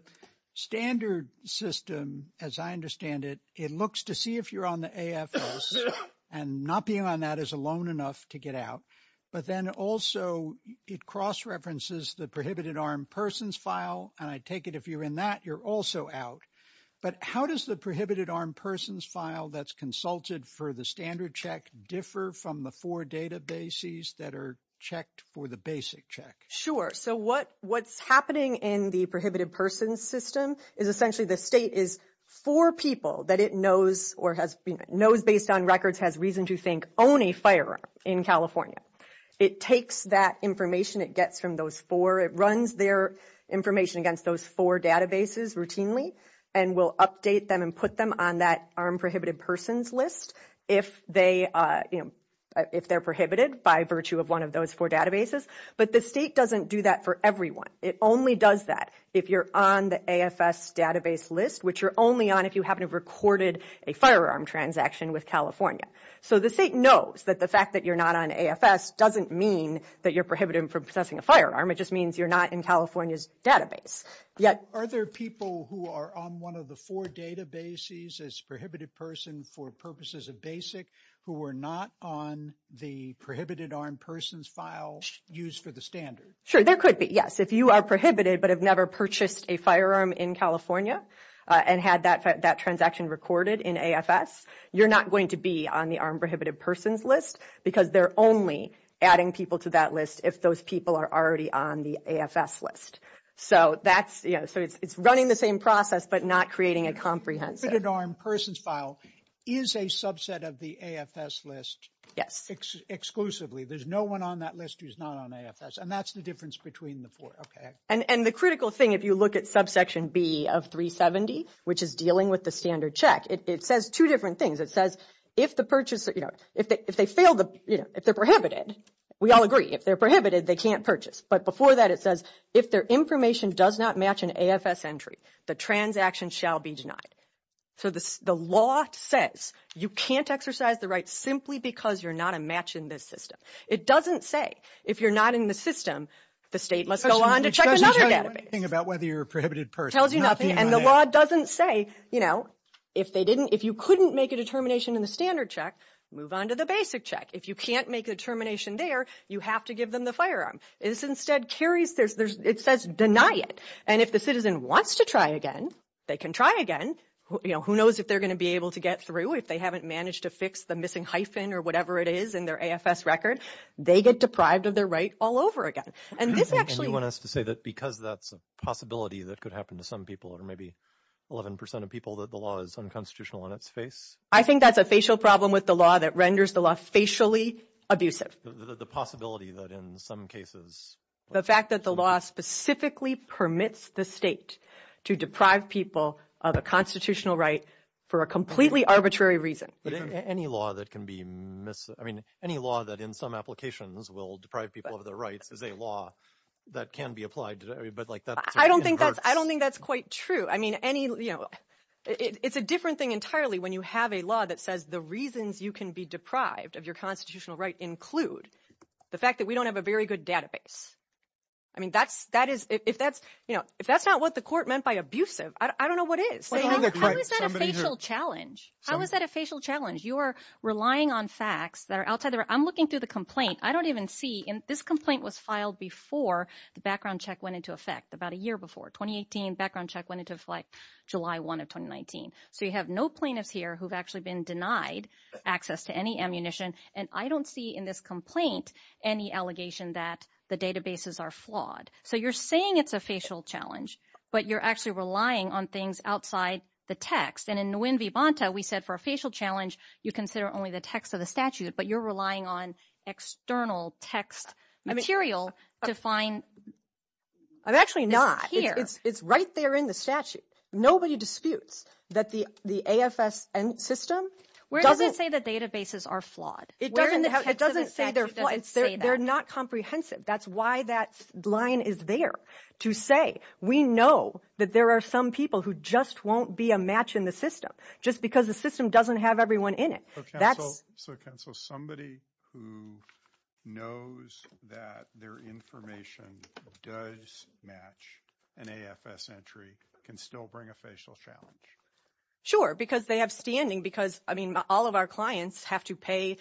standard system, as I understand it, it looks to see if you're on the AFS and not being on that is alone enough to get out. But then also it cross-references the prohibited armed persons file. And I take it if you're in that, you're also out. But how does the prohibited armed persons file that's consulted for the standard check differ from the four databases that are checked for the basic check? Sure. So what's happening in the prohibited persons system is essentially the state is for people that it knows knows based on records has reason to think own a firearm in California. It takes that information it gets from those four. It runs their information against those four databases routinely and will update them and put them on that armed prohibited persons list if they're prohibited by virtue of one of those four databases. But the state doesn't do that for everyone. It only does that if you're on the AFS database list, which you're only on if you haven't recorded a firearm transaction with California. So the state knows that the fact that you're not on AFS doesn't mean that you're prohibited from possessing a firearm. It just means you're not in California's database. Are there people who are on one of the four databases as prohibited person for purposes of basic who are not on the prohibited armed persons file used for the standard? Sure, there could be, yes. If you are prohibited but have never purchased a firearm in California, and had that transaction recorded in AFS, you're not going to be on the armed prohibited persons list because they're only adding people to that list if those people are already on the AFS list. So that's, you know, so it's running the same process but not creating a comprehensive armed persons file is a subset of the AFS list exclusively. There's no one on that list who's not on AFS and that's the difference between the four. And the critical thing, if you look at subsection B of 370, which is dealing with the standard check, it says two different things. It says if the purchase, you know, if they fail, if they're prohibited, we all agree, if they're prohibited, they can't purchase. But before that, it says if their information does not match an AFS entry, the transaction shall be denied. So the law says you can't exercise the right simply because you're not a match in this system. It doesn't say if you're not in the system, the state must go on to check another database. It tells you nothing about whether you're a prohibited person. It tells you nothing and the law doesn't say, you know, if they didn't, if you couldn't make a determination in the standard check, move on to the basic check. If you can't make a determination there, you have to give them the firearm. This instead carries, it says deny it. And if the citizen wants to try again, they can try again. You know, who knows if they're going to be able to get through if they haven't managed to fix the missing hyphen or whatever it is in their AFS record. They get deprived of their right all over again. And this actually... And you want us to say that because that's a possibility that could happen to some people or maybe 11% of people that the law is unconstitutional in its face? I think that's a facial problem with the law that renders the law facially abusive. The possibility that in some cases... The fact that the law specifically permits the state to deprive people of a constitutional right for a completely arbitrary reason. Any law that can be mis... I mean, any law that in some applications will deprive people of their rights is a law that can be applied. I don't think that's quite true. I mean, it's a different thing entirely when you have a law that says the reasons you can be deprived of your constitutional right include the fact that we don't have a very good database. I mean, if that's not what the court meant by abusive, I don't know what is. How is that a facial challenge? How is that a facial challenge? You're relying on facts that are outside... I'm looking through the complaint. I don't even see... And this complaint was filed before the background check went into effect, about a year before. 2018 background check went into effect July 1 of 2019. So you have no plaintiffs here who've actually been denied access to any ammunition. And I don't see in this complaint any allegation that the databases are flawed. So you're saying it's a facial challenge, but you're actually relying on things outside the text. And in Nguyen Vy Banta, we said for a facial challenge, consider only the text of the statute, but you're relying on external text material to find... I'm actually not. It's right there in the statute. Nobody disputes that the AFS system... Where does it say the databases are flawed? They're not comprehensive. That's why that line is there to say, we know that there are some people who just won't be a match in the system, just because the system doesn't have everyone in it. So somebody who knows that their information does match an AFS entry can still bring a facial challenge? Sure, because they have standing, because all of our clients have to pay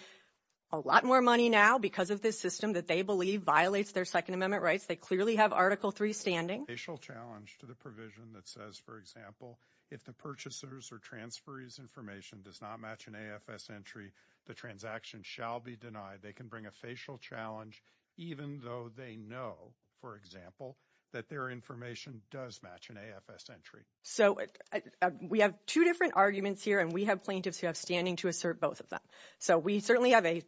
a lot more money now because of this system that they believe violates their Second Amendment rights. They clearly have Article III standing. Facial challenge to the provision that says, for example, if the purchaser's or transferee's information does not match an AFS entry, the transaction shall be denied. They can bring a facial challenge, even though they know, for example, that their information does match an AFS entry. So we have two different arguments here, and we have plaintiffs who have standing to assert both of them. So we certainly have a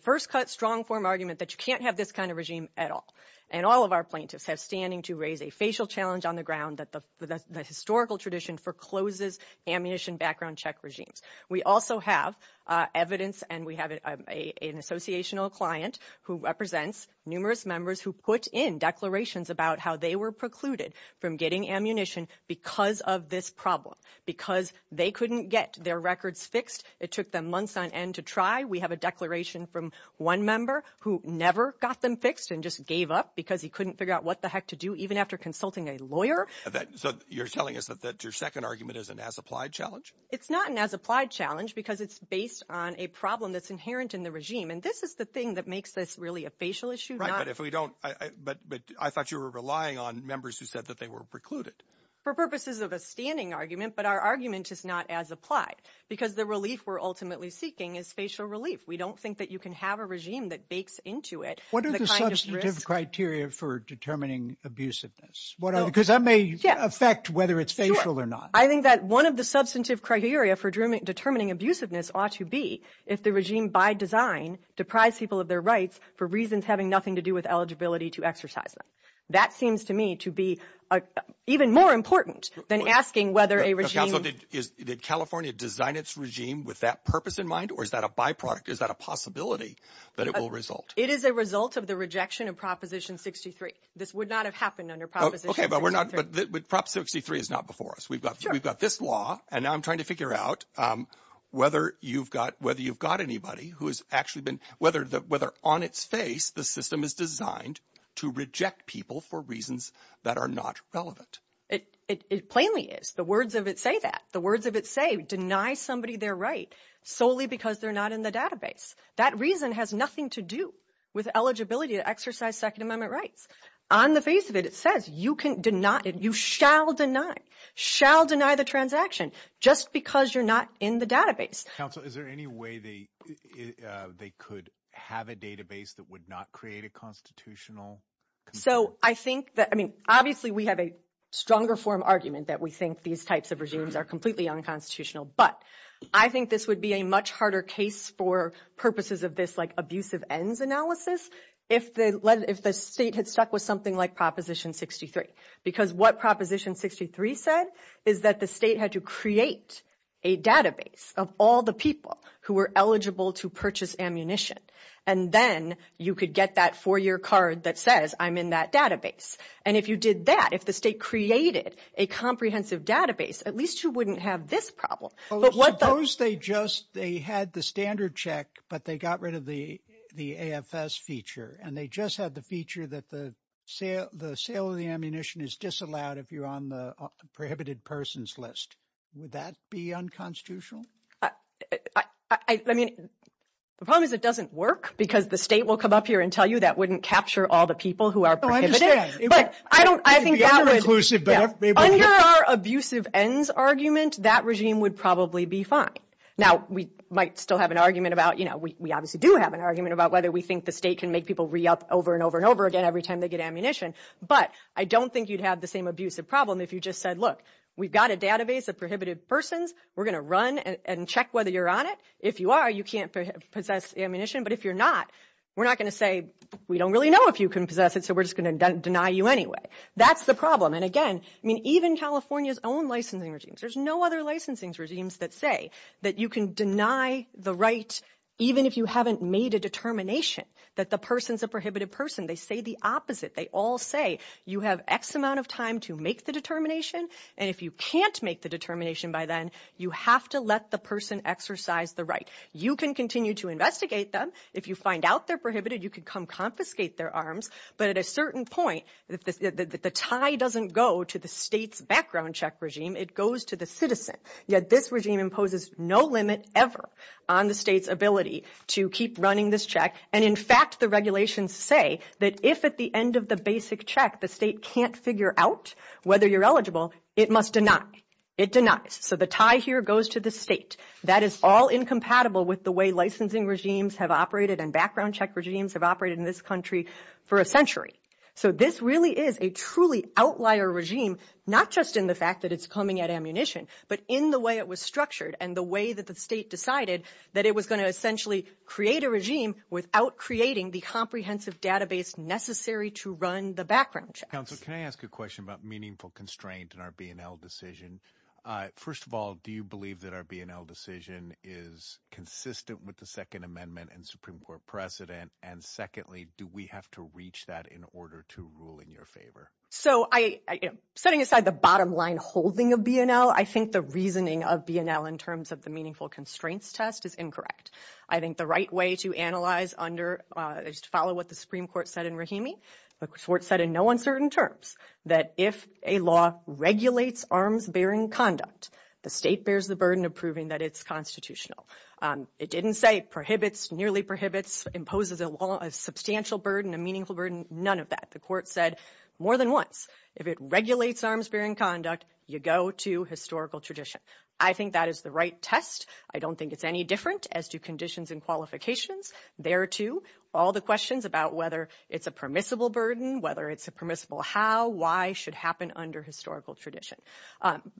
first cut, strong form argument that you can't have this kind of regime at all. And all of our plaintiffs have standing to raise a facial challenge on the ground that the historical tradition forecloses ammunition background check regimes. We also have evidence, and we have an associational client who represents numerous members who put in declarations about how they were precluded from getting ammunition because of this problem, because they couldn't get their records fixed. It took them months on end to try. We have a declaration from one member who never got them fixed and just gave up because he couldn't figure out what the heck to do, even after consulting a lawyer. So you're telling us that your second argument is an as-applied challenge? It's not an as-applied challenge because it's based on a problem that's inherent in the regime. And this is the thing that makes this really a facial issue. Right, but I thought you were relying on members who said that they were precluded. For purposes of a standing argument, but our argument is not as-applied because the relief we're ultimately seeking is facial relief. We don't think that you can have a regime that bakes into it. What are the substantive criteria for determining abusiveness? What else? Because that may affect whether it's facial or not. I think that one of the substantive criteria for determining abusiveness ought to be if the regime by design deprives people of their rights for reasons having nothing to do with eligibility to exercise them. That seems to me to be even more important than asking whether a regime- Did California design its regime with that purpose in mind, or is that a byproduct? Is that a possibility that it will result? It is a result of the rejection of Proposition 63. This would not have happened under Proposition 63. Okay, but Proposition 63 is not before us. We've got this law, and now I'm trying to figure out whether you've got anybody who has actually been- whether on its face the system is designed to reject people for reasons that are not relevant. It plainly is. The words of it say that. The words of it say, deny somebody their rights solely because they're not in the database. That reason has nothing to do with eligibility to exercise Second Amendment rights. On the face of it, it says you can deny- you shall deny, shall deny the transaction just because you're not in the database. Counsel, is there any way they could have a database that would not create a constitutional- So I think that- I mean, obviously, we have a stronger form argument that we think these types of regimes are completely unconstitutional, but I think this would be a much harder case for purposes of this, like, abusive ends analysis if the state had stuck with something like Proposition 63. Because what Proposition 63 said is that the state had to create a database of all the people who were eligible to purchase ammunition, and then you could get that four-year card that says, I'm in that database. And if you did that, if the state created a comprehensive database, at least you wouldn't have this problem. But what- Suppose they just- they had the standard check, but they got rid of the AFS feature, and they just had the feature that the sale of the ammunition is disallowed if you're on the prohibited persons list. Would that be unconstitutional? I mean, the problem is it doesn't work, because the state will come up here and tell you that wouldn't capture all the people who are prohibited. Oh, I understand. But I don't- I think that- The other inclusive- Under our abusive ends argument, that regime would probably be fine. Now, we might still have an argument about- We obviously do have an argument about whether we think the state can make people re-up over and over and over again every time they get ammunition. But I don't think you'd have the same abusive problem if you just said, look, we've got a database of prohibited persons. We're going to run and check whether you're on it. If you are, you can't possess ammunition. But if you're not, we're not going to say, we don't really know if you can possess it, so we're just going to deny you anyway. That's the problem. And again, I mean, even California's own licensing regimes, there's no other licensing regimes that say that you can deny the right even if you haven't made a determination that the person's a prohibited person. They say the opposite. They all say you have X amount of time to make the determination. And if you can't make the determination by then, you have to let the person exercise the right. You can continue to investigate them if you find out they're prohibited, you could come confiscate their arms. But at a certain point, if the tie doesn't go to the state's background check regime, it goes to the citizen. Yet this regime imposes no limit ever on the state's ability to keep running this check. And in fact, the regulations say that if at the end of the basic check, the state can't figure out whether you're eligible, it must deny. It denies. So the tie here goes to the state. That is all incompatible with the way licensing regimes have operated and background check regimes have operated in this country for a century. So this really is a truly outlier regime, not just in the fact that it's coming at ammunition, but in the way it was structured and the way that the state decided that it was going to essentially create a regime without creating the comprehensive database necessary to run the background check. Councilor, can I ask a question about meaningful constraint in our BNL decision? First of all, do you believe that our BNL decision is consistent with the Second Amendment and Supreme Court precedent? And secondly, do we have to reach that in order to rule in your favor? So setting aside the bottom line holding a BNL, I think the reasoning of BNL in terms of the meaningful constraints test is incorrect. I think the right way to analyze under is to follow what the Supreme Court said in Rahimi. The court said in no uncertain terms that if a law regulates arms bearing conduct, the state bears the burden of proving that it's constitutional. It didn't say it prohibits, nearly prohibits, imposes a law, a substantial burden, a meaningful burden, none of that. The court said more than once if it regulates arms bearing conduct, you go to historical tradition. I think that is the right test. I don't think it's any different as to conditions and qualifications. There too, all the questions about whether it's a permissible burden, whether it's a permissible how, why should happen under historical tradition.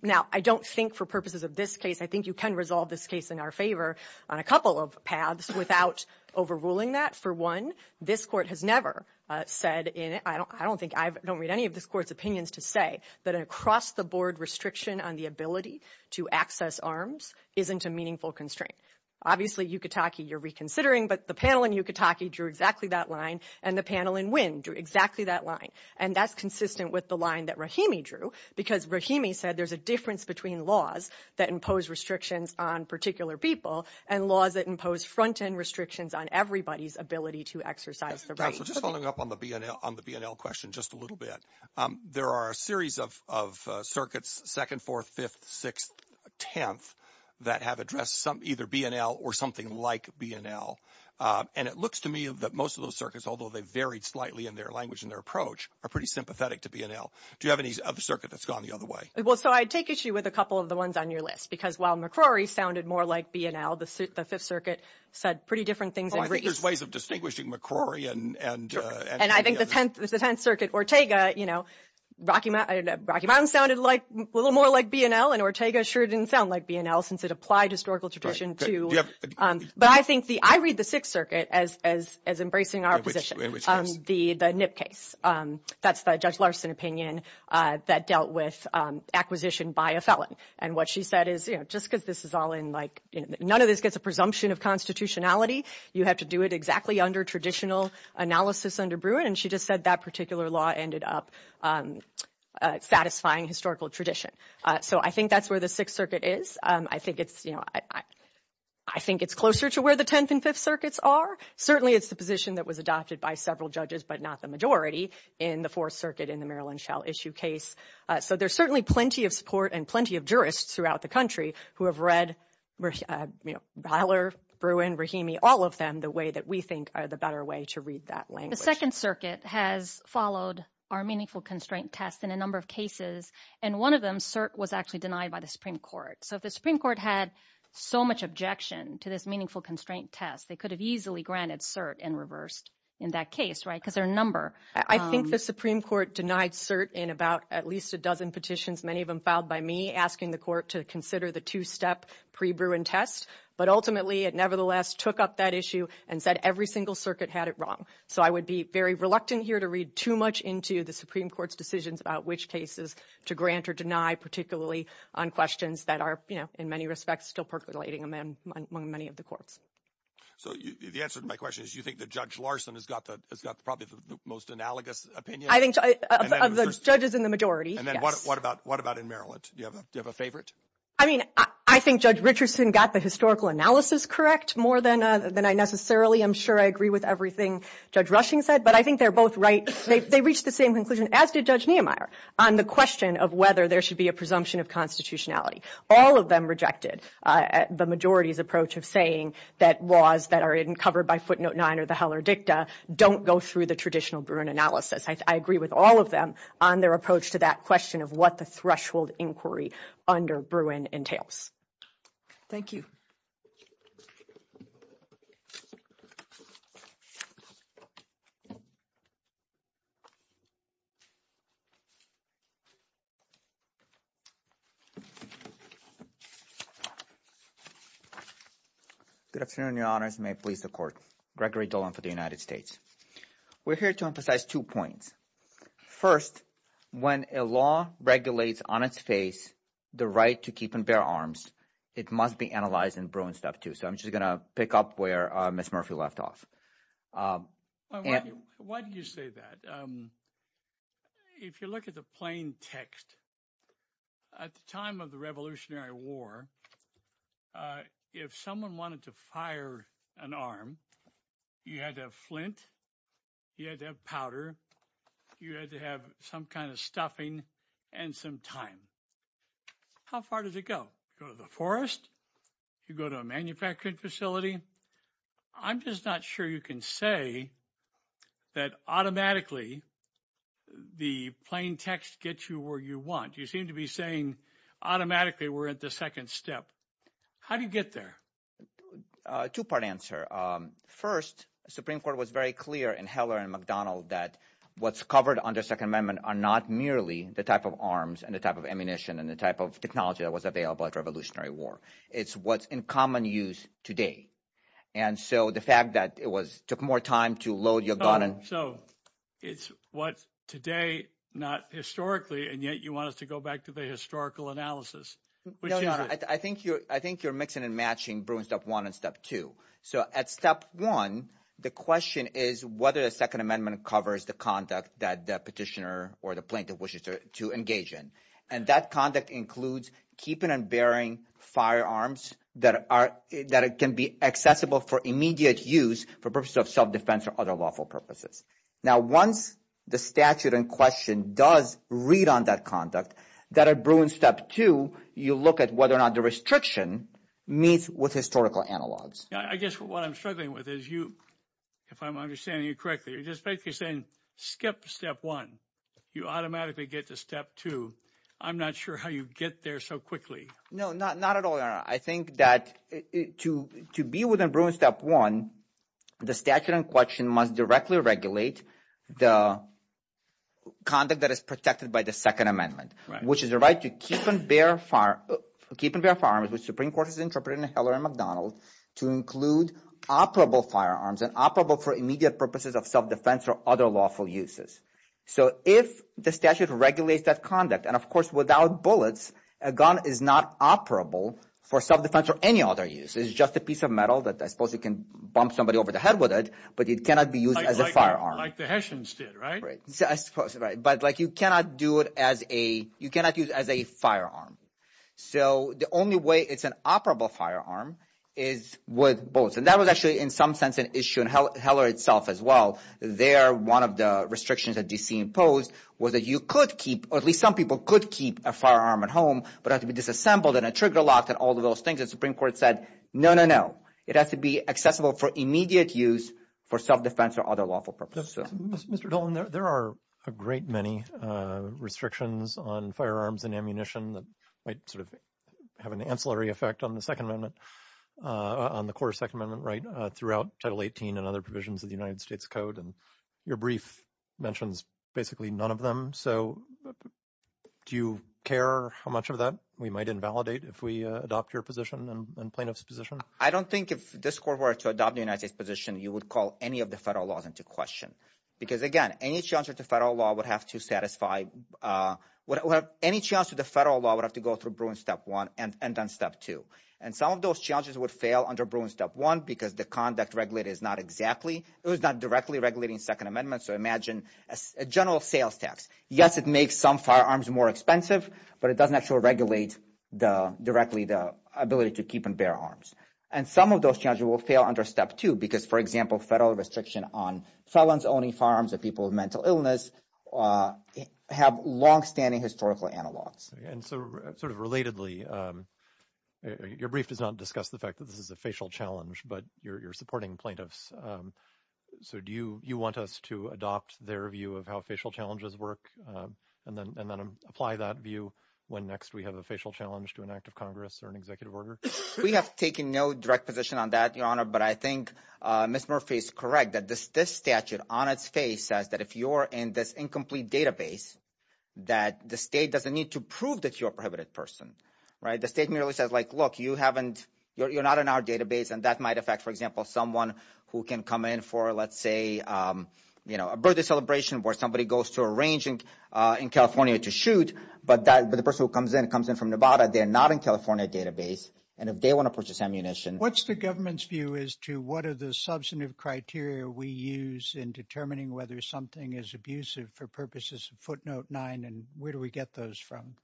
Now, I don't think for purposes of this case, I think you can resolve this case in our favor on a couple of paths without overruling that. For one, this court has never said in, I don't think, I don't read any of this court's opinions to say that across the board restriction on the ability to access arms isn't a meaningful constraint. Obviously, Yukatake, you're reconsidering, but the panel in Yukatake drew exactly that line and the panel in Winn drew exactly that line. And that's consistent with the line that Rahimi drew because Rahimi said there's a difference between laws that impose restrictions on particular people and laws that impose front-end restrictions on everybody's ability to exercise the right. Just following up on the BNL, on the BNL question just a little bit. There are a series of circuits, 2nd, 4th, 5th, 6th, 10th, that have addressed either BNL or something like BNL. And it looks to me that most of those circuits, although they varied slightly in their language and their approach, are pretty sympathetic to BNL. Do you have any other circuit that's gone the other way? Well, so I'd take issue with a couple of the ones on your list because while McCrory sounded more like BNL, the 5th Circuit said pretty different things. Well, I think there's ways of distinguishing McCrory and... And I think the 10th Circuit, Rocky Mountain sounded a little more like BNL and Ortega sure didn't sound like BNL since it applied historical tradition to... But I think the... I read the 6th Circuit as embracing our position, the Nip case. That's the Judge Larson opinion that dealt with acquisition by a felon. And what she said is, just because this is all in like... None of this gets a presumption of constitutionality. You have to do it exactly under traditional analysis under Bruin. And she just said that particular law ended up satisfying historical tradition. So I think that's where the 6th Circuit is. I think it's... I think it's closer to where the 10th and 5th Circuits are. Certainly, it's the position that was adopted by several judges, but not the majority in the 4th Circuit in the Maryland Shell issue case. So there's certainly plenty of support and plenty of jurists throughout the country who have read Haller, Bruin, Rahimi, all of them, the way that we think are the better way to read that language. The 2nd Circuit has followed our Meaningful Constraint Test in a number of cases. And one of them, CERT, was actually denied by the Supreme Court. So if the Supreme Court had so much objection to this Meaningful Constraint Test, they could have easily granted CERT and reversed in that case, right? Because there are a number. I think the Supreme Court denied CERT in about at least a dozen petitions, many of them filed by me, asking the court to consider the two-step pre-Bruin test. But ultimately, it nevertheless took up that issue and said every single circuit had it wrong. So I would be very reluctant here to read too much into the Supreme Court's decisions about which cases to grant or deny, particularly on questions that are, you know, in many respects, still percolating among many of the courts. So the answer to my question is you think that Judge Larson has got probably the most analogous opinion? I think of the judges in the majority. And then what about in Maryland? Do you have a favorite? I mean, I think Judge Richardson got the historical analysis correct more than I necessarily. I'm sure I agree with everything. Judge Rushing said, but I think they're both right. They reached the same conclusion, as did Judge Niemeyer, on the question of whether there should be a presumption of constitutionality. All of them rejected the majority's approach of saying that laws that are covered by footnote 9 or the Heller dicta don't go through the traditional Bruin analysis. I agree with all of them on their approach to that question of what the threshold inquiry under Bruin entails. Thank you. Good afternoon, Your Honors. May I please support Gregory Dolan for the United States. We're here to emphasize two points. First, when a law regulates on its face the right to keep and bear arms, it must be analyzed in Bruin stuff, too. So I'm just going to pick up where Ms. Murphy left off. Why do you say that? If you look at the plain text, at the time of the Revolutionary War, if someone wanted to fire an arm, you had to have flint, you had to have powder, you had to have some kind of stuffing and some time. How far did it go? You go to a manufacturing facility? I'm just not sure you can say that automatically the plain text gets you where you want. You seem to be saying automatically we're at the second step. How do you get there? Two-part answer. First, the Supreme Court was very clear in Heller and McDonald that what's covered under Second Amendment are not merely the type of arms and the type of ammunition and the type of technology that was available at Revolutionary War. It's what's in common use today. And so the fact that it was took more time to load your gun and... So it's what today, not historically, and yet you want us to go back to the historical analysis. I think you're mixing and matching Bruin step one and step two. So at step one, the question is whether the Second Amendment covers the conduct that the petitioner or the plaintiff wishes to engage in. And that conduct includes keeping and bearing firearms that can be accessible for immediate use for purposes of self-defense or other lawful purposes. Now, once the statute in question does read on that conduct, that at Bruin step two, you look at whether or not the restriction meets with historical analogs. Yeah, I guess what I'm struggling with is you, if I'm understanding you correctly, you're just basically saying skip to step one. You automatically get to step two. I'm not sure how you get there so quickly. No, not at all, Your Honor. I think that to be within Bruin step one, the statute in question must directly regulate the conduct that is protected by the Second Amendment, which is a right to keep and bear firearms which Supreme Court has interpreted in Heller and McDonald to include operable firearms and operable for immediate purposes of self-defense or other lawful uses. So if the statute regulates that conduct, and of course, without bullets, a gun is not operable for self-defense or any other use. It's just a piece of metal that I suppose you can bump somebody over the head with it, but it cannot be used as a firearm. Like the Hessians did, right? Right, I suppose, right. But like you cannot do it as a, you cannot use as a firearm. So the only way it's an operable firearm is with bullets. And that was actually in some sense an issue in Heller itself as well. There, one of the restrictions that DC imposed was that you could keep, at least some people could keep a firearm at home, but it had to be disassembled and a trigger locked and all of those things. The Supreme Court said, no, no, no. It has to be accessible for immediate use for self-defense or other lawful purposes. Mr. Dillon, there are a great many restrictions on firearms and ammunition that might sort of have an ancillary effect on the Second Amendment, on the core Second Amendment right throughout Title 18 and other provisions of the United States Code. And your brief mentions basically none of them. So do you care how much of that we might invalidate if we adopt your position and plaintiff's position? I don't think if this court were to adopt the United States position, you would call any of the federal laws into question. Because again, any challenge with the federal law would have to satisfy, would have any chance of the federal law would have to go through Bruins Step 1 and then Step 2. And some of those challenges would fail under Bruins Step 1 because the conduct regulated is not exactly, it was not directly regulating Second Amendment. So imagine a general sales tax. Yes, it makes some firearms more expensive, but it doesn't actually regulate directly the ability to keep and bear arms. And some of those challenges will fail under Step 2 because, for example, federal restriction on felons owning firearms or people with mental illness have longstanding historical analogs. And so sort of relatedly, your brief does not discuss the fact that this is a facial challenge, but you're supporting plaintiffs. So do you want us to adopt their view of how facial challenges work and then apply that view when next we have a facial challenge to an act of Congress or an executive order? We have taken no direct position on that, Your Honor, but I think Ms. Murphy is correct that this statute on its face says that if you're in this incomplete database, that the state doesn't need to prove that you're a prohibited person, right? The state merely says like, look, you haven't, you're not in our database and that might affect, for example, someone who can come in for, let's say, you know, a birthday celebration where somebody goes to a range in California to shoot, but the person who comes in comes in from Nevada, they're not in California database. And if they want to purchase ammunition... What's the government's view as to what are the substantive criteria we use in determining whether something is abusive for purposes of footnote nine and where do we get those from?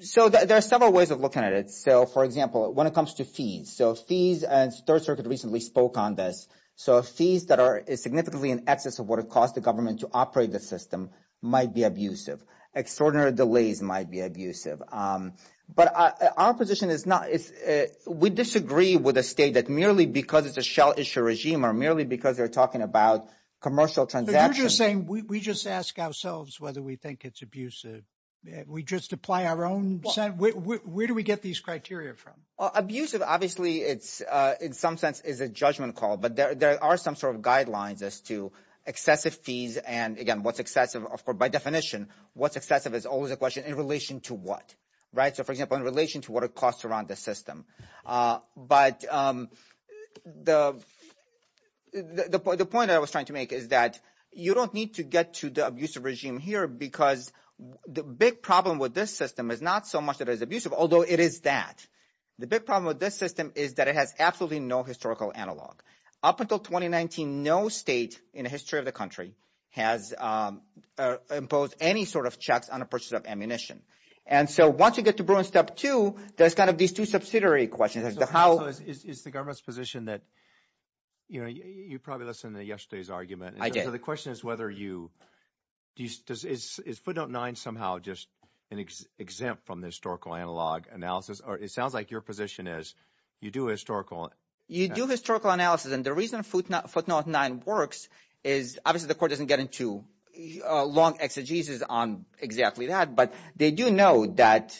So there are several ways of looking at it. So, for example, when it comes to fees, so fees, as Third Circuit recently spoke on this, so fees that are significantly in excess of what it costs the government to operate the system might be abusive. Extraordinary delays might be abusive. But our position is not... We disagree with a state that merely because it's a shell issue regime or merely because they're talking about commercial transactions... But you're just saying, we just ask ourselves whether we think it's abusive. We just apply our own... Where do we get these criteria from? Abusive, obviously, it's in some sense is a judgment call, but there are some sort of guidelines to excessive fees. And again, what's excessive? Of course, by definition, what's excessive is always a question in relation to what, right? So, for example, in relation to what it costs around the system. But the point I was trying to make is that you don't need to get to the abusive regime here because the big problem with this system is not so much that it is abusive, although it is that. The big problem with this system is that it has absolutely no historical analog. Up until 2019, no state in the history of the country has imposed any sort of checks on the purchase of ammunition. And so once you get to Bruin step two, there's kind of these two subsidiary questions. Is the government's position that, you know, you probably listened to yesterday's argument. I did. So the question is whether you... Is footnote nine somehow just an exempt from the historical analog analysis? Or it sounds like your position is you do historical... You do historical analysis. And the reason footnote nine works is obviously the court doesn't get into long exegesis on exactly that. But they do know that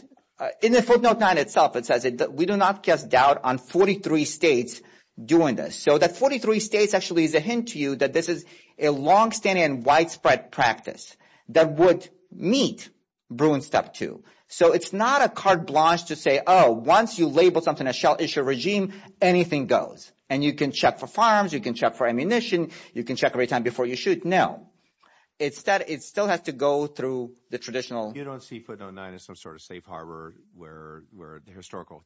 in the footnote nine itself, it says that we do not cast doubt on 43 states doing this. So that 43 states actually is a hint to you that this is a longstanding widespread practice that would meet Bruin step two. So it's not a carte blanche to say, oh, once you label something a shell issue regime, anything goes. And you can check for farms. You can check for ammunition. You can check every time before you shoot. No, it's that it still has to go through the traditional... You don't see footnote nine as some sort of safe harbor where the historical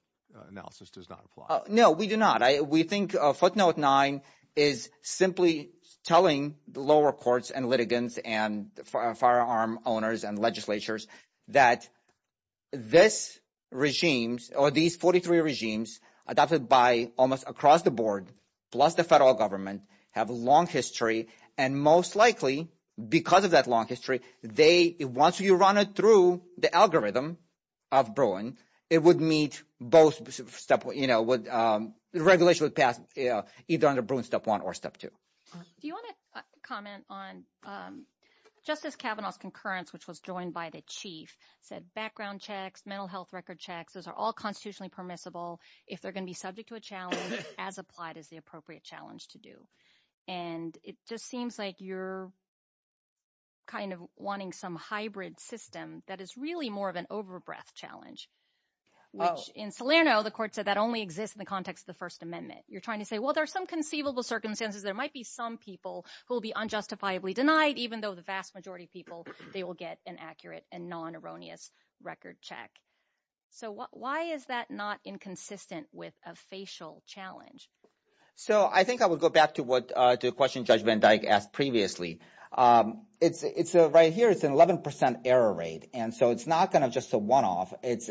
analysis does not apply. No, we do not. We think footnote nine is simply telling the lower courts and litigants and firearm owners and legislatures that this regime or these 43 regimes adopted by almost across the board plus the federal government have a long history. And most likely because of that long history, once you run it through the algorithm of Bruin, it would meet both step... The regulation would pass either under Bruin step one or step two. Do you want to comment on Justice Kavanaugh's concurrence, which was joined by the chief, said background checks, mental health record checks, those are all constitutionally permissible. If they're going to be subject to a challenge as applied as the appropriate challenge to do. And it just seems like you're kind of wanting some hybrid system that is really more of an over-breath challenge. Which in Salerno, the court said that only exists in the context of the First Amendment. You're trying to say, well, there's some conceivable circumstances. There might be some people who will be unjustifiably denied, even though the vast majority of people, they will get an accurate and non-erroneous record check. So why is that not inconsistent with a facial challenge? So I think I would go back to the question judgment I asked previously. Right here, it's an 11% error rate. And so it's not going to just a one-off. But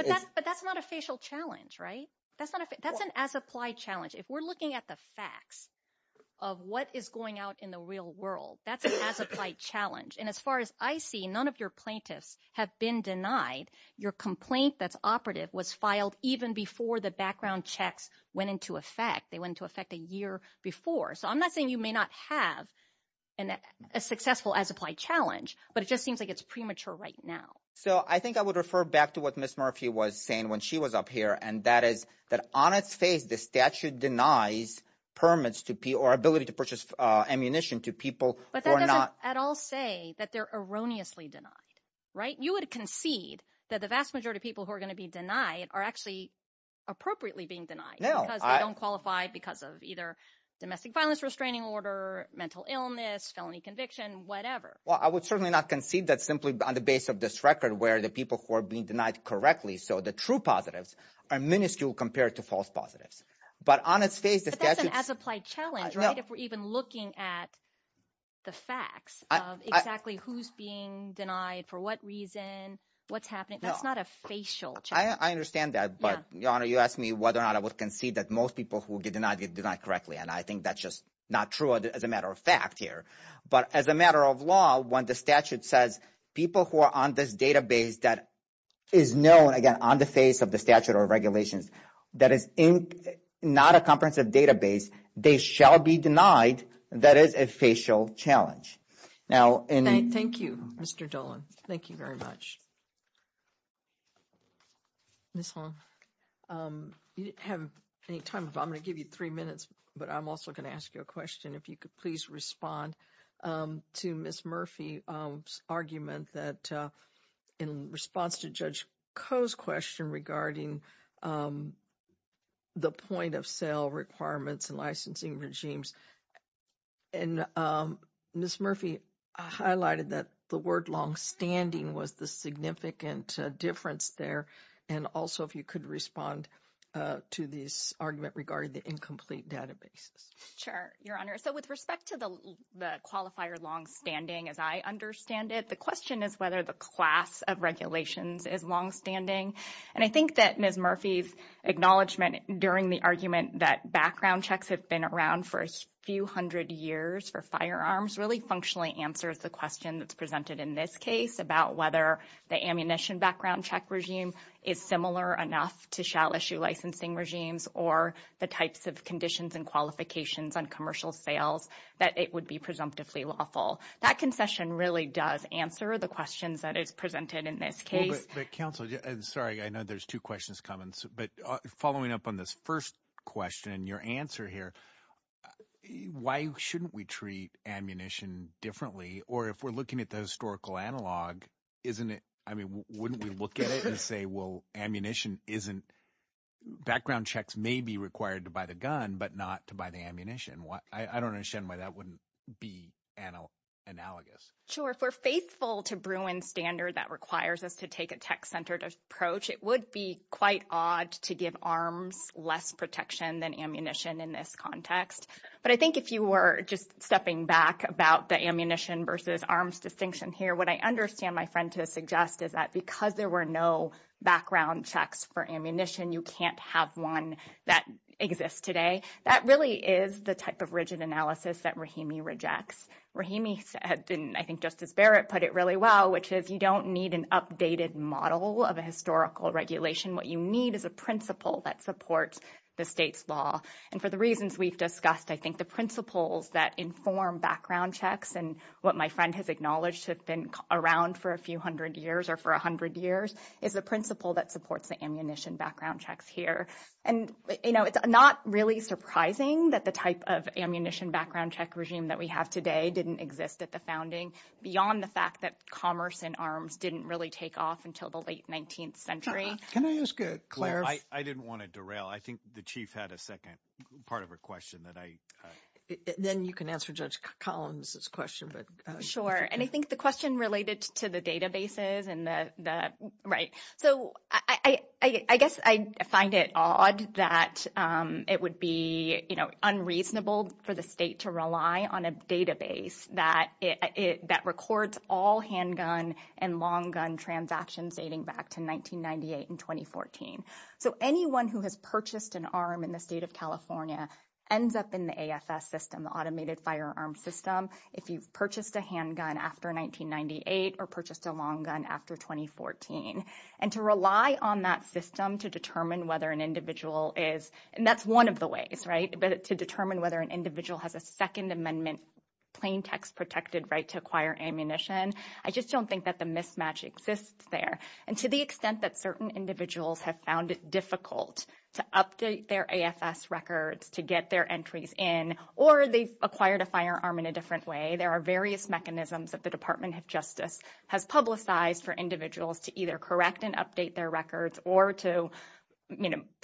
that's not a facial challenge, right? That's an as-applied challenge. If we're looking at the facts of what is going out in the real world, that's an as-applied challenge. And as far as I see, none of your plaintiffs have been denied your complaint that's operative was filed even before the background checks went into effect. They went into effect a year before. So I'm not saying you may not have a successful as-applied challenge, but it just seems like it's premature right now. So I think I would refer back to what Ms. Murphy was saying when she was up here, and that is that on its face, the statute denies permits to people or ability to purchase ammunition to people who are not- But that doesn't at all say that they're erroneously denied, right? You would concede that the vast majority of people who are going to be denied are actually appropriately being denied. No, I- Because they don't qualify because of either domestic violence restraining order, mental illness, felony conviction, whatever. Well, I would certainly not concede that simply on the base of this record where the people who are being denied correctly, so the true positives are minuscule compared to false positives. But on its face, the statute- But that's an as-applied challenge, right? If we're even looking at the facts of exactly who's being denied, for what reason, what's happening, that's not a facial challenge. I understand that, but, Your Honor, you asked me whether or not I would concede that most people who did not get denied correctly, and I think that's just not true as a matter of fact here. But as a matter of law, when the statute says people who are on this database that is known, again, on the face of the statute or regulations, that is not a comprehensive database, they shall be denied. That is a facial challenge. Now, and- Thank you, Mr. Dolan. Thank you very much. Ms. Hong, you didn't have any time, so I'm gonna give you three minutes, but I'm also gonna ask you a question if you could please respond to Ms. Murphy's argument that in response to Judge Koh's question regarding the point-of-sale requirements and licensing regimes, and Ms. Murphy highlighted that the word longstanding was the significant difference there, and also if you could respond to this argument regarding the incomplete database. Sure, Your Honor. So with respect to the qualifier longstanding, as I understand it, the question is whether the class of regulations is longstanding. And I think that Ms. Murphy's acknowledgement during the argument that background checks have been around for a few hundred years for firearms really functionally answers the question that's presented in this case about whether the ammunition background check regime is similar enough to shell issue licensing regimes or the types of conditions and qualifications on commercial sales that it would be presumptively lawful. That confession really does answer the questions that is presented in this case. But counsel, I'm sorry, I know there's two questions coming, but following up on this first question and your answer here, why shouldn't we treat ammunition differently or if we're looking at the historical analog, isn't it, I mean, wouldn't we look at it and say, well, ammunition isn't, background checks may be required to buy the gun, but not to buy the ammunition. I don't understand why that wouldn't be analogous. Sure, if we're faithful to Bruin's standard that requires us to take a tech-centered approach, it would be quite odd to give arms less protection than ammunition in this context. But I think if you were just stepping back about the ammunition versus arms distinction here, what I understand my friend to suggest is that because there were no background checks for ammunition, you can't have one that exists today. That really is the type of rigid analysis that Rahimi rejects. Rahimi, I think Justice Barrett put it really well, which is you don't need an updated model of a historical regulation. What you need is a principle that supports the state's law. And for the reasons we've discussed, I think the principles that inform background checks and what my friend has acknowledged has been around for a few hundred years or for a hundred years is a principle that supports the ammunition background checks here. And it's not really surprising that the type of ammunition background check regime that we have today didn't exist at the founding beyond the fact that commerce and arms didn't really take off until the late 19th century. Can I ask Clare? I didn't want to derail. I think the chief had a second part of her question that I- Then you can answer Judge Collins' question. But- Sure. And I think the question related to the databases and the, right. So I guess I find it odd that it would be unreasonable for the state to rely on a database that records all handgun and long gun transactions dating back to 1998 and 2014. So anyone who has purchased an arm in the state of California ends up in the AFS system, the automated firearm system, if you purchased a handgun after 1998 or purchased a long gun after 2014. And to rely on that system to determine whether an individual is- And that's one of the ways, right? But to determine whether an individual has a second amendment plain text protected right to acquire ammunition. I just don't think that the mismatch exists there. And to the extent that certain individuals have found it difficult to update their AFS records, to get their entries in, or they acquired a firearm in a different way, there are various mechanisms that the Department of Justice has publicized for individuals to either correct and update their records or to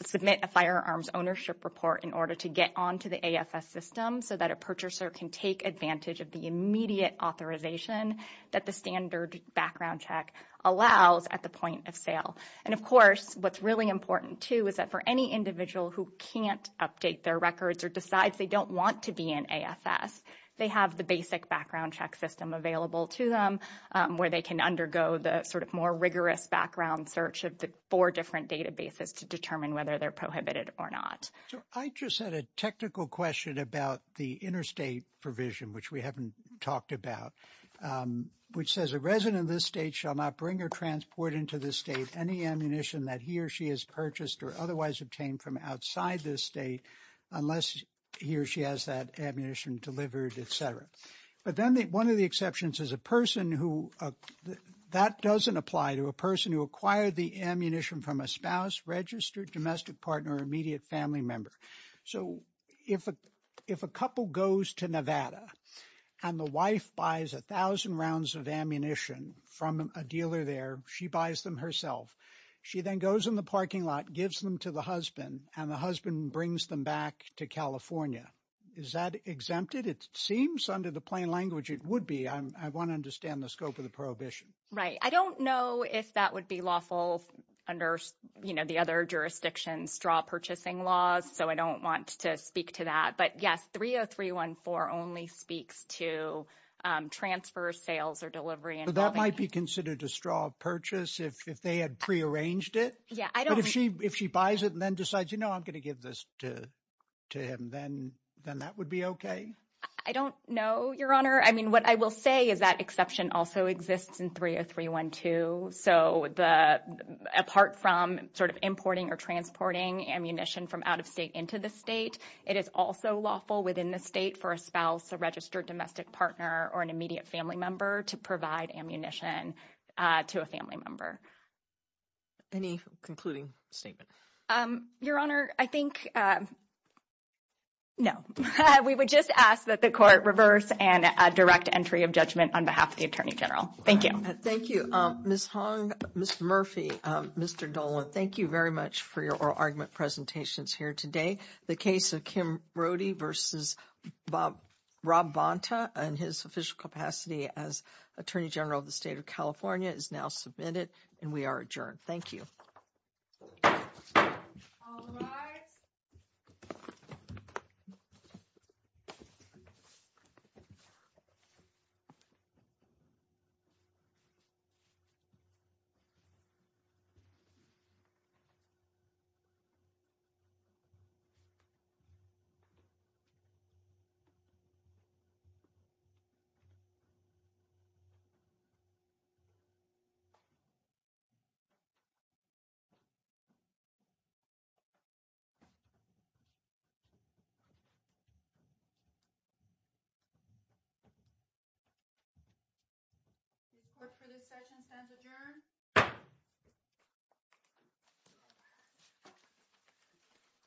submit a firearms ownership report in order to get onto the AFS system so that a purchaser can take advantage of the immediate authorization that the standard background check allows at the point of sale. And of course, what's really important too is that for any individual who can't update their records or decides they don't want to be in AFS, they have the basic background check system available to them where they can undergo the sort of more rigorous background search of the four different databases to determine whether they're prohibited or not. I just had a technical question about the interstate provision, which we haven't talked about, which says a resident of this state shall not bring or transport into the state any ammunition that he or she has purchased or otherwise obtained from outside this state unless he or she has that ammunition delivered, But then one of the exceptions is a person who, that doesn't apply to a person who acquired the ammunition from a spouse, registered domestic partner, or immediate family member. So if a couple goes to Nevada and the wife buys a thousand rounds of ammunition from a dealer there, she buys them herself. She then goes in the parking lot, gives them to the husband and the husband brings them back to California. Is that exempted? It seems under the plain language, it would be. I want to understand the scope of the prohibition. Right. I don't know if that would be lawful under the other jurisdictions straw purchasing laws. So I don't want to speak to that. But yes, 30314 only speaks to transfer sales or delivery. That might be considered a straw purchase if they had prearranged it. If she buys it and then decides, you know, I'm going to give this to him, then that would be okay. I don't know, your honor. I mean, what I will say is that exception also exists in 30312. So apart from sort of importing or transporting ammunition from out of state into the state, it is also lawful within the state for a spouse, a registered domestic partner, or an immediate family member to provide ammunition to a family member. Any concluding statement? Your honor, I think, no. We would just ask that the court reverse and a direct entry of judgment on behalf of the attorney general. Thank you. Thank you, Ms. Hong, Mr. Murphy, Mr. Dolan. Thank you very much for your oral argument presentations here today. The case of Kim Brody versus Rob Bonta and his official capacity as attorney general of the state of California is now submitted. And we are adjourned. Thank you. Court for the second sentence adjourned.